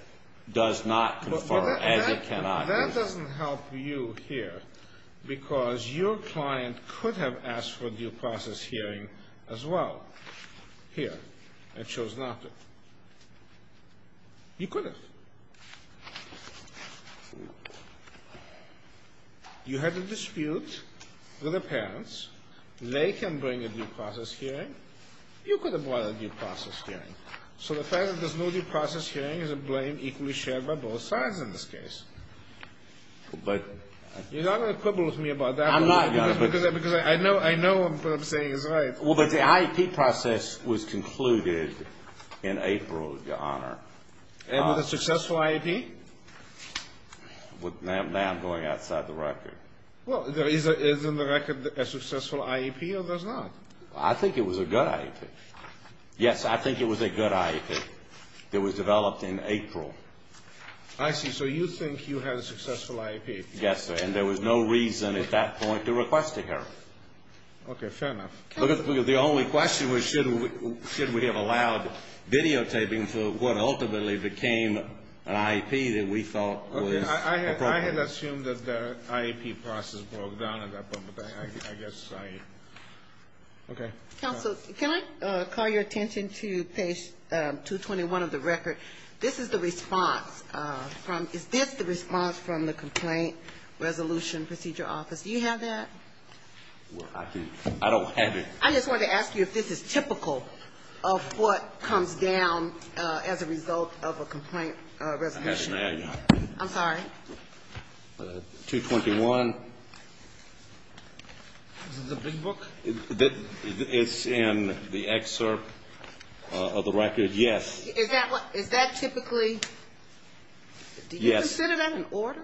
does not confer, as it cannot. That doesn't help you here, because your client could have asked for a due process hearing as well here, and chose not to. You could have. You had a dispute with the parents. They can bring a due process hearing. You could have brought a due process hearing. So the fact that there's no due process hearing is a blame equally shared by both sides in this case. You're not going to quibble with me about that? I'm not, your honor. Because I know what I'm saying is right. Well, but the IEP process was concluded in April, your honor. And was it a successful IEP? Now I'm going outside the record. Well, is in the record a successful IEP or was it not? I think it was a good IEP. Yes, I think it was a good IEP. It was developed in April. I see. So you think you had a successful IEP? Yes, sir. And there was no reason at that point to request a hearing. Okay. Fair enough. The only question was should we have allowed videotaping for what ultimately became an IEP that we thought was appropriate. Okay. I had assumed that the IEP process broke down at that point, but I guess I – okay. Counsel, can I call your attention to page 221 of the record? This is the response from – is this the response from the Complaint Resolution Procedure Office? Do you have that? Well, I don't have it. I just wanted to ask you if this is typical of what comes down as a result of a complaint resolution. I have it now, your honor. I'm sorry. 221. Is it the big book? It's in the excerpt of the record, yes. Is that typically – do you consider that an order?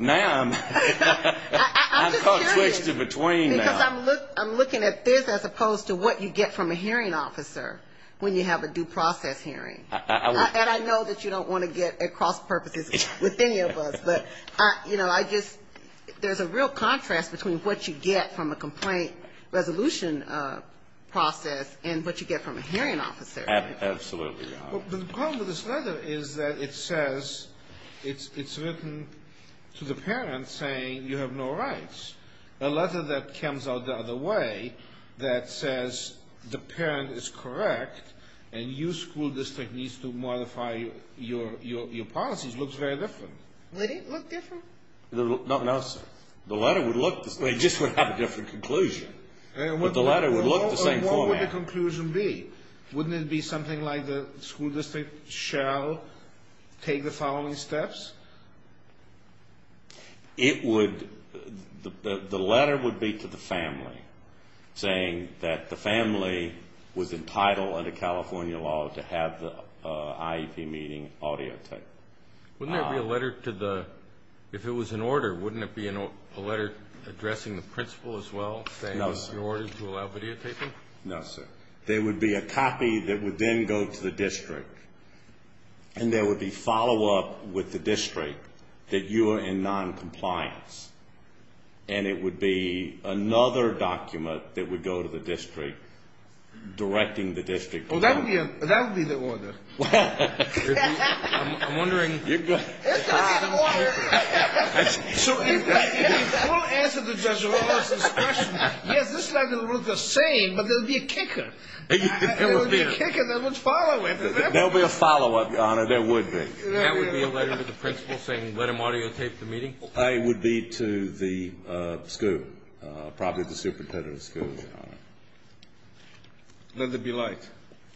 Ma'am, I'm caught switched in between now. Because I'm looking at this as opposed to what you get from a hearing officer when you have a due process hearing. And I know that you don't want to get at cross purposes with any of us. But, you know, I just – there's a real contrast between what you get from a complaint resolution process and what you get from a hearing officer. Absolutely, your honor. But the problem with this letter is that it says – it's written to the parent saying you have no rights. A letter that comes out the other way that says the parent is correct and your school district needs to modify your policies looks very different. They didn't look different? No, sir. The letter would look – they just would have a different conclusion. But the letter would look the same format. What would the conclusion be? Wouldn't it be something like the school district shall take the following steps? It would – the letter would be to the family saying that the family was entitled under California law to have the IEP meeting audiotaped. Wouldn't there be a letter to the – if it was an order, wouldn't it be a letter addressing the principal as well saying it would be ordered to allow videotaping? No, sir. There would be a copy that would then go to the district. And there would be follow-up with the district that you are in noncompliance. And it would be another document that would go to the district directing the district. Oh, that would be the order. I'm wondering – It's going to be the order. We'll answer the judge's question. Yes, this letter would look the same, but there would be a kicker. There would be a kicker that would follow it. There would be a follow-up, Your Honor. There would be. That would be a letter to the principal saying let him audiotape the meeting? It would be to the school, probably the superintendent of the school. Let there be light.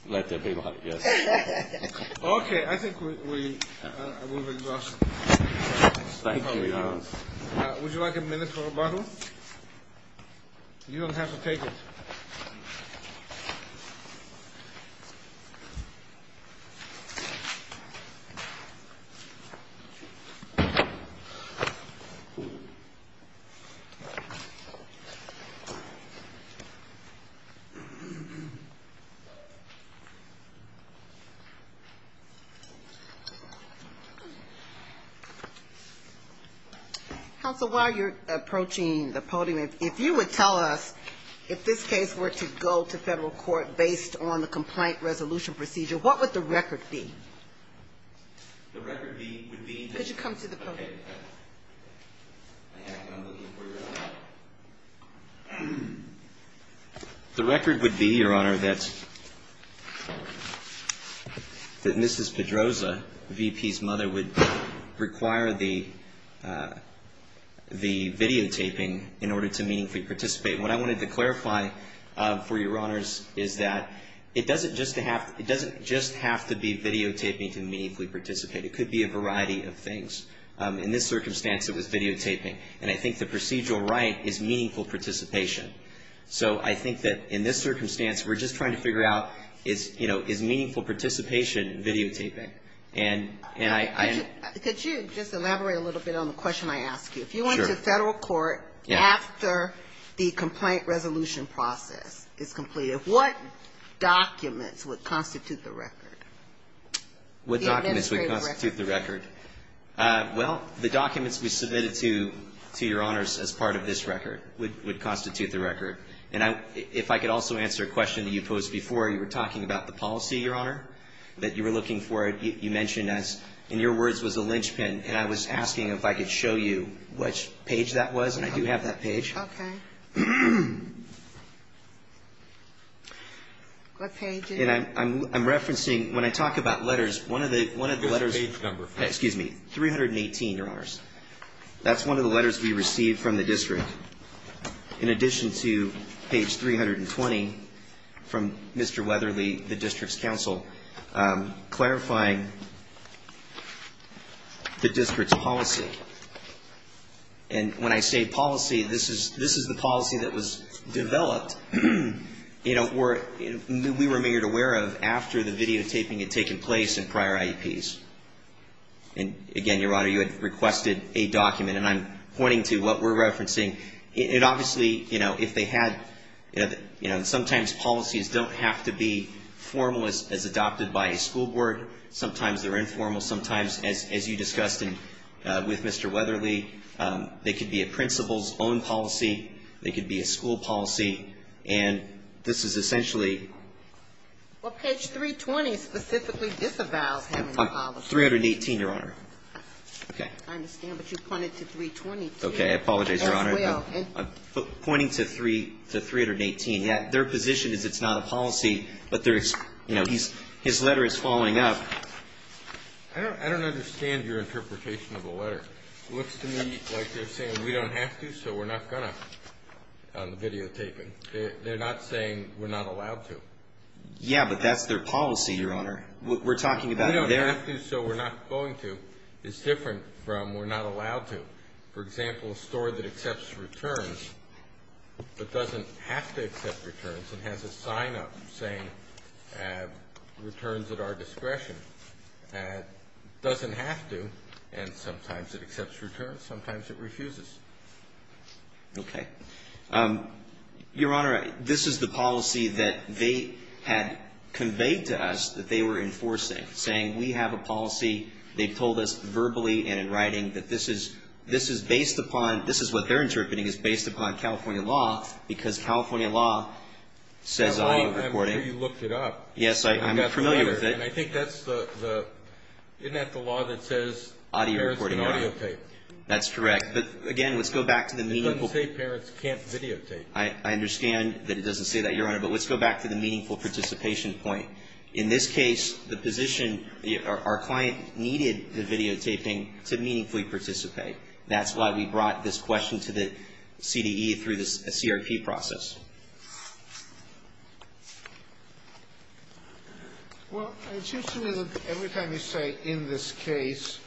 Let there be light, yes. Okay, I think we've exhausted time. Thank you, Your Honor. Would you like a minute for a bottle? You don't have to take it. Counsel, while you're approaching the podium, if you would tell us if this case were to go to federal court based on the complaint resolution procedure, what would the record be? The record would be that – Could you come to the podium? Okay. I'm looking for your record. The record would be, Your Honor, that Mrs. Pedroza, the VP's mother, would require the videotaping in order to meaningfully participate. What I wanted to clarify for Your Honors is that it doesn't just have to be videotaping to meaningfully participate. It could be a variety of things. In this circumstance, it was videotaping. And I think the procedural right is meaningful participation. So I think that in this circumstance, we're just trying to figure out is meaningful participation videotaping? Could you just elaborate a little bit on the question I asked you? If you went to federal court after the complaint resolution process is completed, what documents would constitute the record? What documents would constitute the record? Well, the documents we submitted to Your Honors as part of this record would constitute the record. And if I could also answer a question that you posed before. You were talking about the policy, Your Honor, that you were looking for. You mentioned as, in your words, was a linchpin. And I was asking if I could show you which page that was. And I do have that page. Okay. What page is it? And I'm referencing, when I talk about letters, one of the letters. What page number? Excuse me. 318, Your Honors. That's one of the letters we received from the district. In addition to page 320 from Mr. Weatherly, the district's counsel, clarifying the district's policy. And when I say policy, this is the policy that was developed, you know, we were made aware of after the videotaping had taken place in prior IEPs. And I'm pointing to what we're referencing. It obviously, you know, if they had, you know, sometimes policies don't have to be formalist as adopted by a school board. Sometimes they're informal. Sometimes, as you discussed with Mr. Weatherly, they could be a principal's own policy. They could be a school policy. And this is essentially. Well, page 320 specifically disavows having a policy. 318, Your Honor. Okay. I understand, but you pointed to 322 as well. Okay. I apologize, Your Honor. I'm pointing to 318. Their position is it's not a policy, but there's, you know, his letter is following up. I don't understand your interpretation of the letter. It looks to me like they're saying we don't have to, so we're not going to on the videotaping. They're not saying we're not allowed to. Yeah, but that's their policy, Your Honor. We're talking about their. We don't have to, so we're not going to. 322 is different from we're not allowed to. For example, a store that accepts returns but doesn't have to accept returns and has a sign-up saying returns at our discretion doesn't have to, and sometimes it accepts returns, sometimes it refuses. Okay. Your Honor, this is the policy that they had conveyed to us that they were enforcing, saying we have a policy. They've told us verbally and in writing that this is based upon, this is what they're interpreting as based upon California law, because California law says audio recording. I'm sure you looked it up. Yes, I'm familiar with it. And I think that's the, isn't that the law that says parents can audio tape? That's correct. But, again, let's go back to the meaningful. It doesn't say parents can't videotape. I understand that it doesn't say that, Your Honor, but let's go back to the meaningful participation point. In this case, the position, our client needed the videotaping to meaningfully participate. That's why we brought this question to the CDE through the CRP process. Well, it seems to me that every time you say in this case,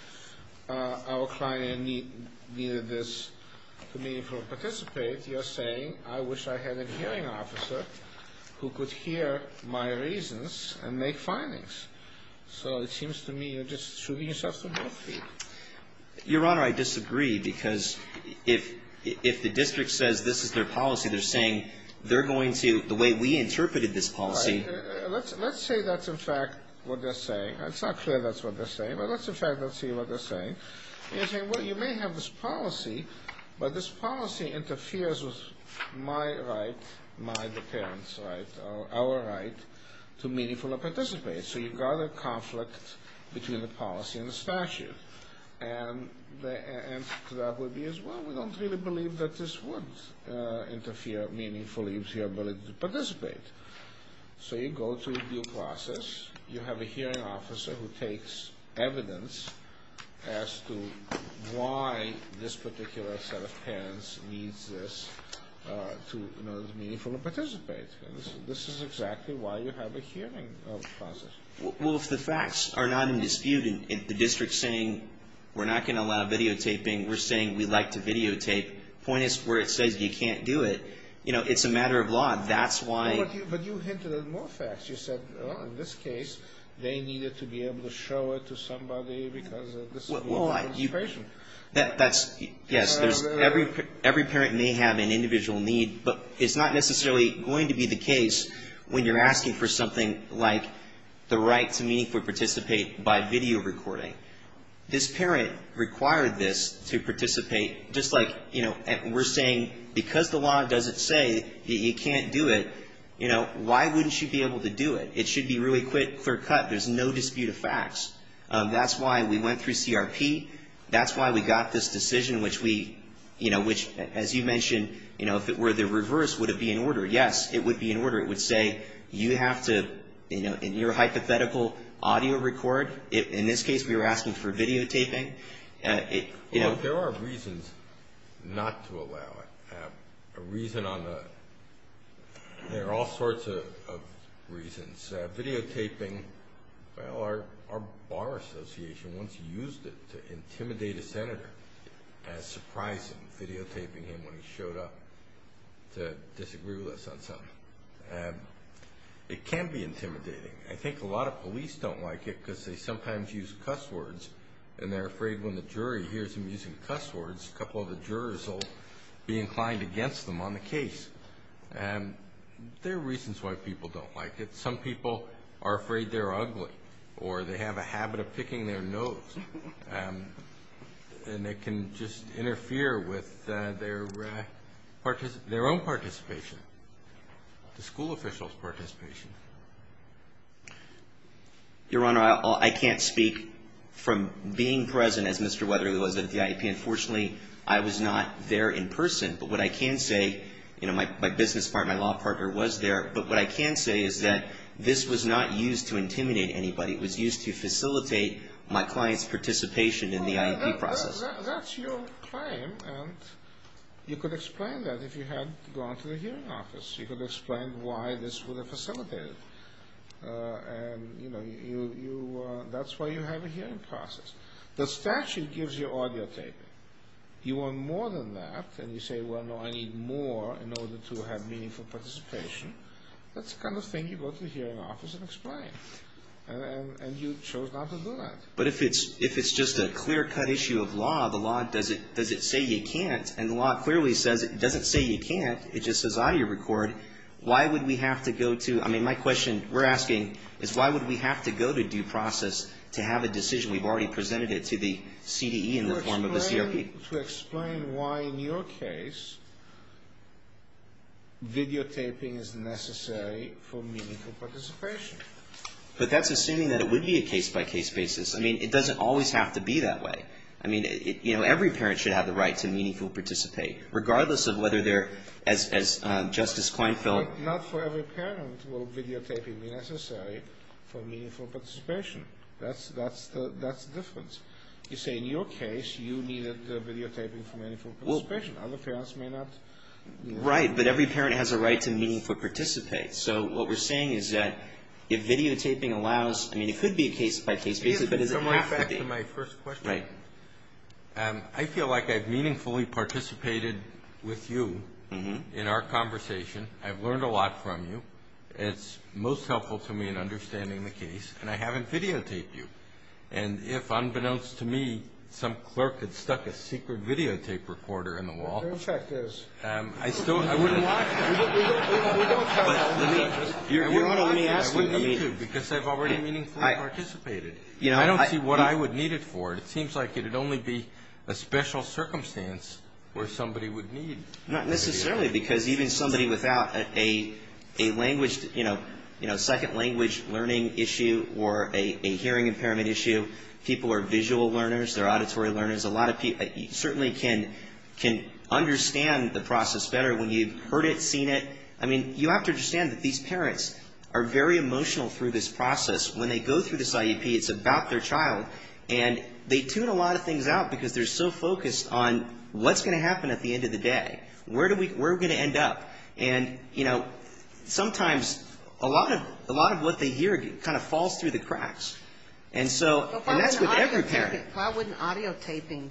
our client needed this to meaningfully participate, you're saying I wish I had a hearing officer who could hear my reasons and make findings. So it seems to me you're just shooting yourself in the foot. Your Honor, I disagree, because if the district says this is their policy, they're saying they're going to, the way we interpreted this policy. Let's say that's, in fact, what they're saying. It's not clear that's what they're saying, but let's, in fact, see what they're saying. You're saying, well, you may have this policy, but this policy interferes with my right, my, the parent's right, our right to meaningfully participate. So you've got a conflict between the policy and the statute. And the answer to that would be, well, we don't really believe that this would interfere meaningfully with your ability to participate. So you go through due process. You have a hearing officer who takes evidence as to why this particular set of parents needs this to, you know, meaningfully participate. This is exactly why you have a hearing process. Well, if the facts are not in dispute and the district's saying we're not going to allow videotaping, we're saying we'd like to videotape, the point is where it says you can't do it, you know, it's a matter of law. That's why. But you hinted at more facts. You said, well, in this case, they needed to be able to show it to somebody because of the situation. That's, yes, every parent may have an individual need, but it's not necessarily going to be the case when you're asking for something like the right to meaningfully participate by video recording. This parent required this to participate, just like, you know, we're saying because the law doesn't say that you can't do it, you know, why wouldn't you be able to do it? It should be really clear cut. There's no dispute of facts. That's why we went through CRP. That's why we got this decision, which we, you know, which, as you mentioned, you know, if it were the reverse, would it be in order? Yes, it would be in order. It would say you have to, you know, in your hypothetical, audio record. In this case, we were asking for videotaping. There are reasons not to allow it. A reason on the – there are all sorts of reasons. Videotaping, well, our bar association once used it to intimidate a senator as surprising, videotaping him when he showed up to disagree with us on something. It can be intimidating. I think a lot of police don't like it because they sometimes use cuss words, and they're afraid when the jury hears them using cuss words, a couple of the jurors will be inclined against them on the case. There are reasons why people don't like it. Some people are afraid they're ugly or they have a habit of picking their nose, and it can just interfere with their own participation, the school official's participation. Your Honor, I can't speak from being present as Mr. Weatherly was at the IEP. Unfortunately, I was not there in person, but what I can say, you know, my business partner, my law partner was there, but what I can say is that this was not used to intimidate anybody. It was used to facilitate my client's participation in the IEP process. Well, that's your claim, and you could explain that if you had gone to the hearing office. You could explain why this would have facilitated it. And, you know, that's why you have a hearing process. The statute gives you audio taping. You want more than that, and you say, well, no, I need more in order to have meaningful participation. That's the kind of thing you go to the hearing office and explain, and you chose not to do that. But if it's just a clear-cut issue of law, the law doesn't say you can't, and the law clearly says it doesn't say you can't, it just says audio record. Why would we have to go to, I mean, my question we're asking is why would we have to go to due process to have a decision we've already presented it to the CDE in the form of a CRP? To explain why, in your case, videotaping is necessary for meaningful participation. But that's assuming that it would be a case-by-case basis. I mean, it doesn't always have to be that way. I mean, you know, every parent should have the right to meaningful participate, regardless of whether they're, as Justice Kleinfeld. Not for every parent will videotaping be necessary for meaningful participation. That's the difference. You say, in your case, you needed videotaping for meaningful participation. Other parents may not. Right, but every parent has a right to meaningful participate. So what we're saying is that if videotaping allows, I mean, it could be a case-by-case basis. Back to my first question. I feel like I've meaningfully participated with you in our conversation. I've learned a lot from you. It's most helpful to me in understanding the case, and I haven't videotaped you. And if, unbeknownst to me, some clerk had stuck a secret videotape recorder in the wall. Go check this. I still wouldn't want to. Your Honor, let me ask you. I wouldn't need to, because I've already meaningfully participated. I don't see what I would need it for. It seems like it would only be a special circumstance where somebody would need videotaping. Not necessarily, because even somebody without a language, you know, second language learning issue or a hearing impairment issue, people are visual learners, they're auditory learners. A lot of people certainly can understand the process better when you've heard it, seen it. I mean, you have to understand that these parents are very emotional through this process. When they go through this IEP, it's about their child. And they tune a lot of things out because they're so focused on what's going to happen at the end of the day. Where are we going to end up? And, you know, sometimes a lot of what they hear kind of falls through the cracks. And so, and that's with every parent. Why wouldn't audiotaping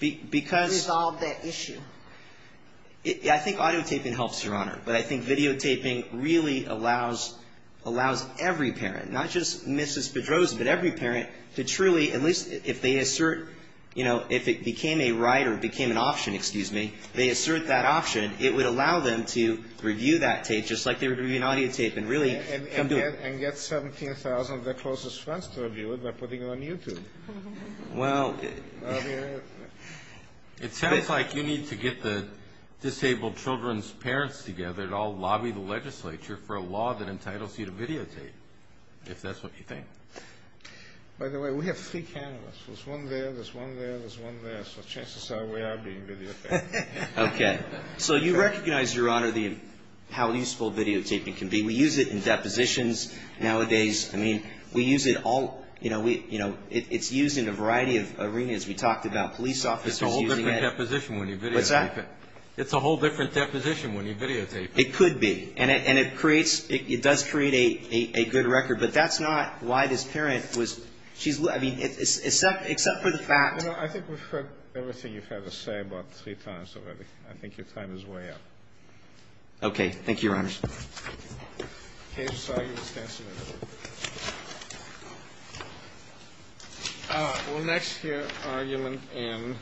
resolve that issue? I think audiotaping helps, Your Honor, but I think videotaping really allows every parent, not just Mrs. Pedrosa, but every parent to truly, at least if they assert, you know, if it became a right or became an option, excuse me, they assert that option, it would allow them to review that tape just like they would review an audiotape and really come to it. And get 17,000 of their closest friends to review it by putting it on YouTube. Well. I mean, it sounds like you need to get the disabled children's parents together that all lobby the legislature for a law that entitles you to videotape, if that's what you think. By the way, we have three cameras. There's one there, there's one there, there's one there. So chances are we are being videotaped. Okay. So you recognize, Your Honor, how useful videotaping can be. We use it in depositions nowadays. I mean, we use it all, you know, it's used in a variety of arenas. We talked about police officers using it. It's a whole different deposition when you videotape it. What's that? It could be. And it creates, it does create a good record. But that's not why this parent was, she's, I mean, except for the fact. You know, I think we've heard everything you've had to say about three times already. I think your time is way up. Okay. Thank you, Your Honor. Okay. I'm sorry you were standing there. All right. We'll next hear argument M.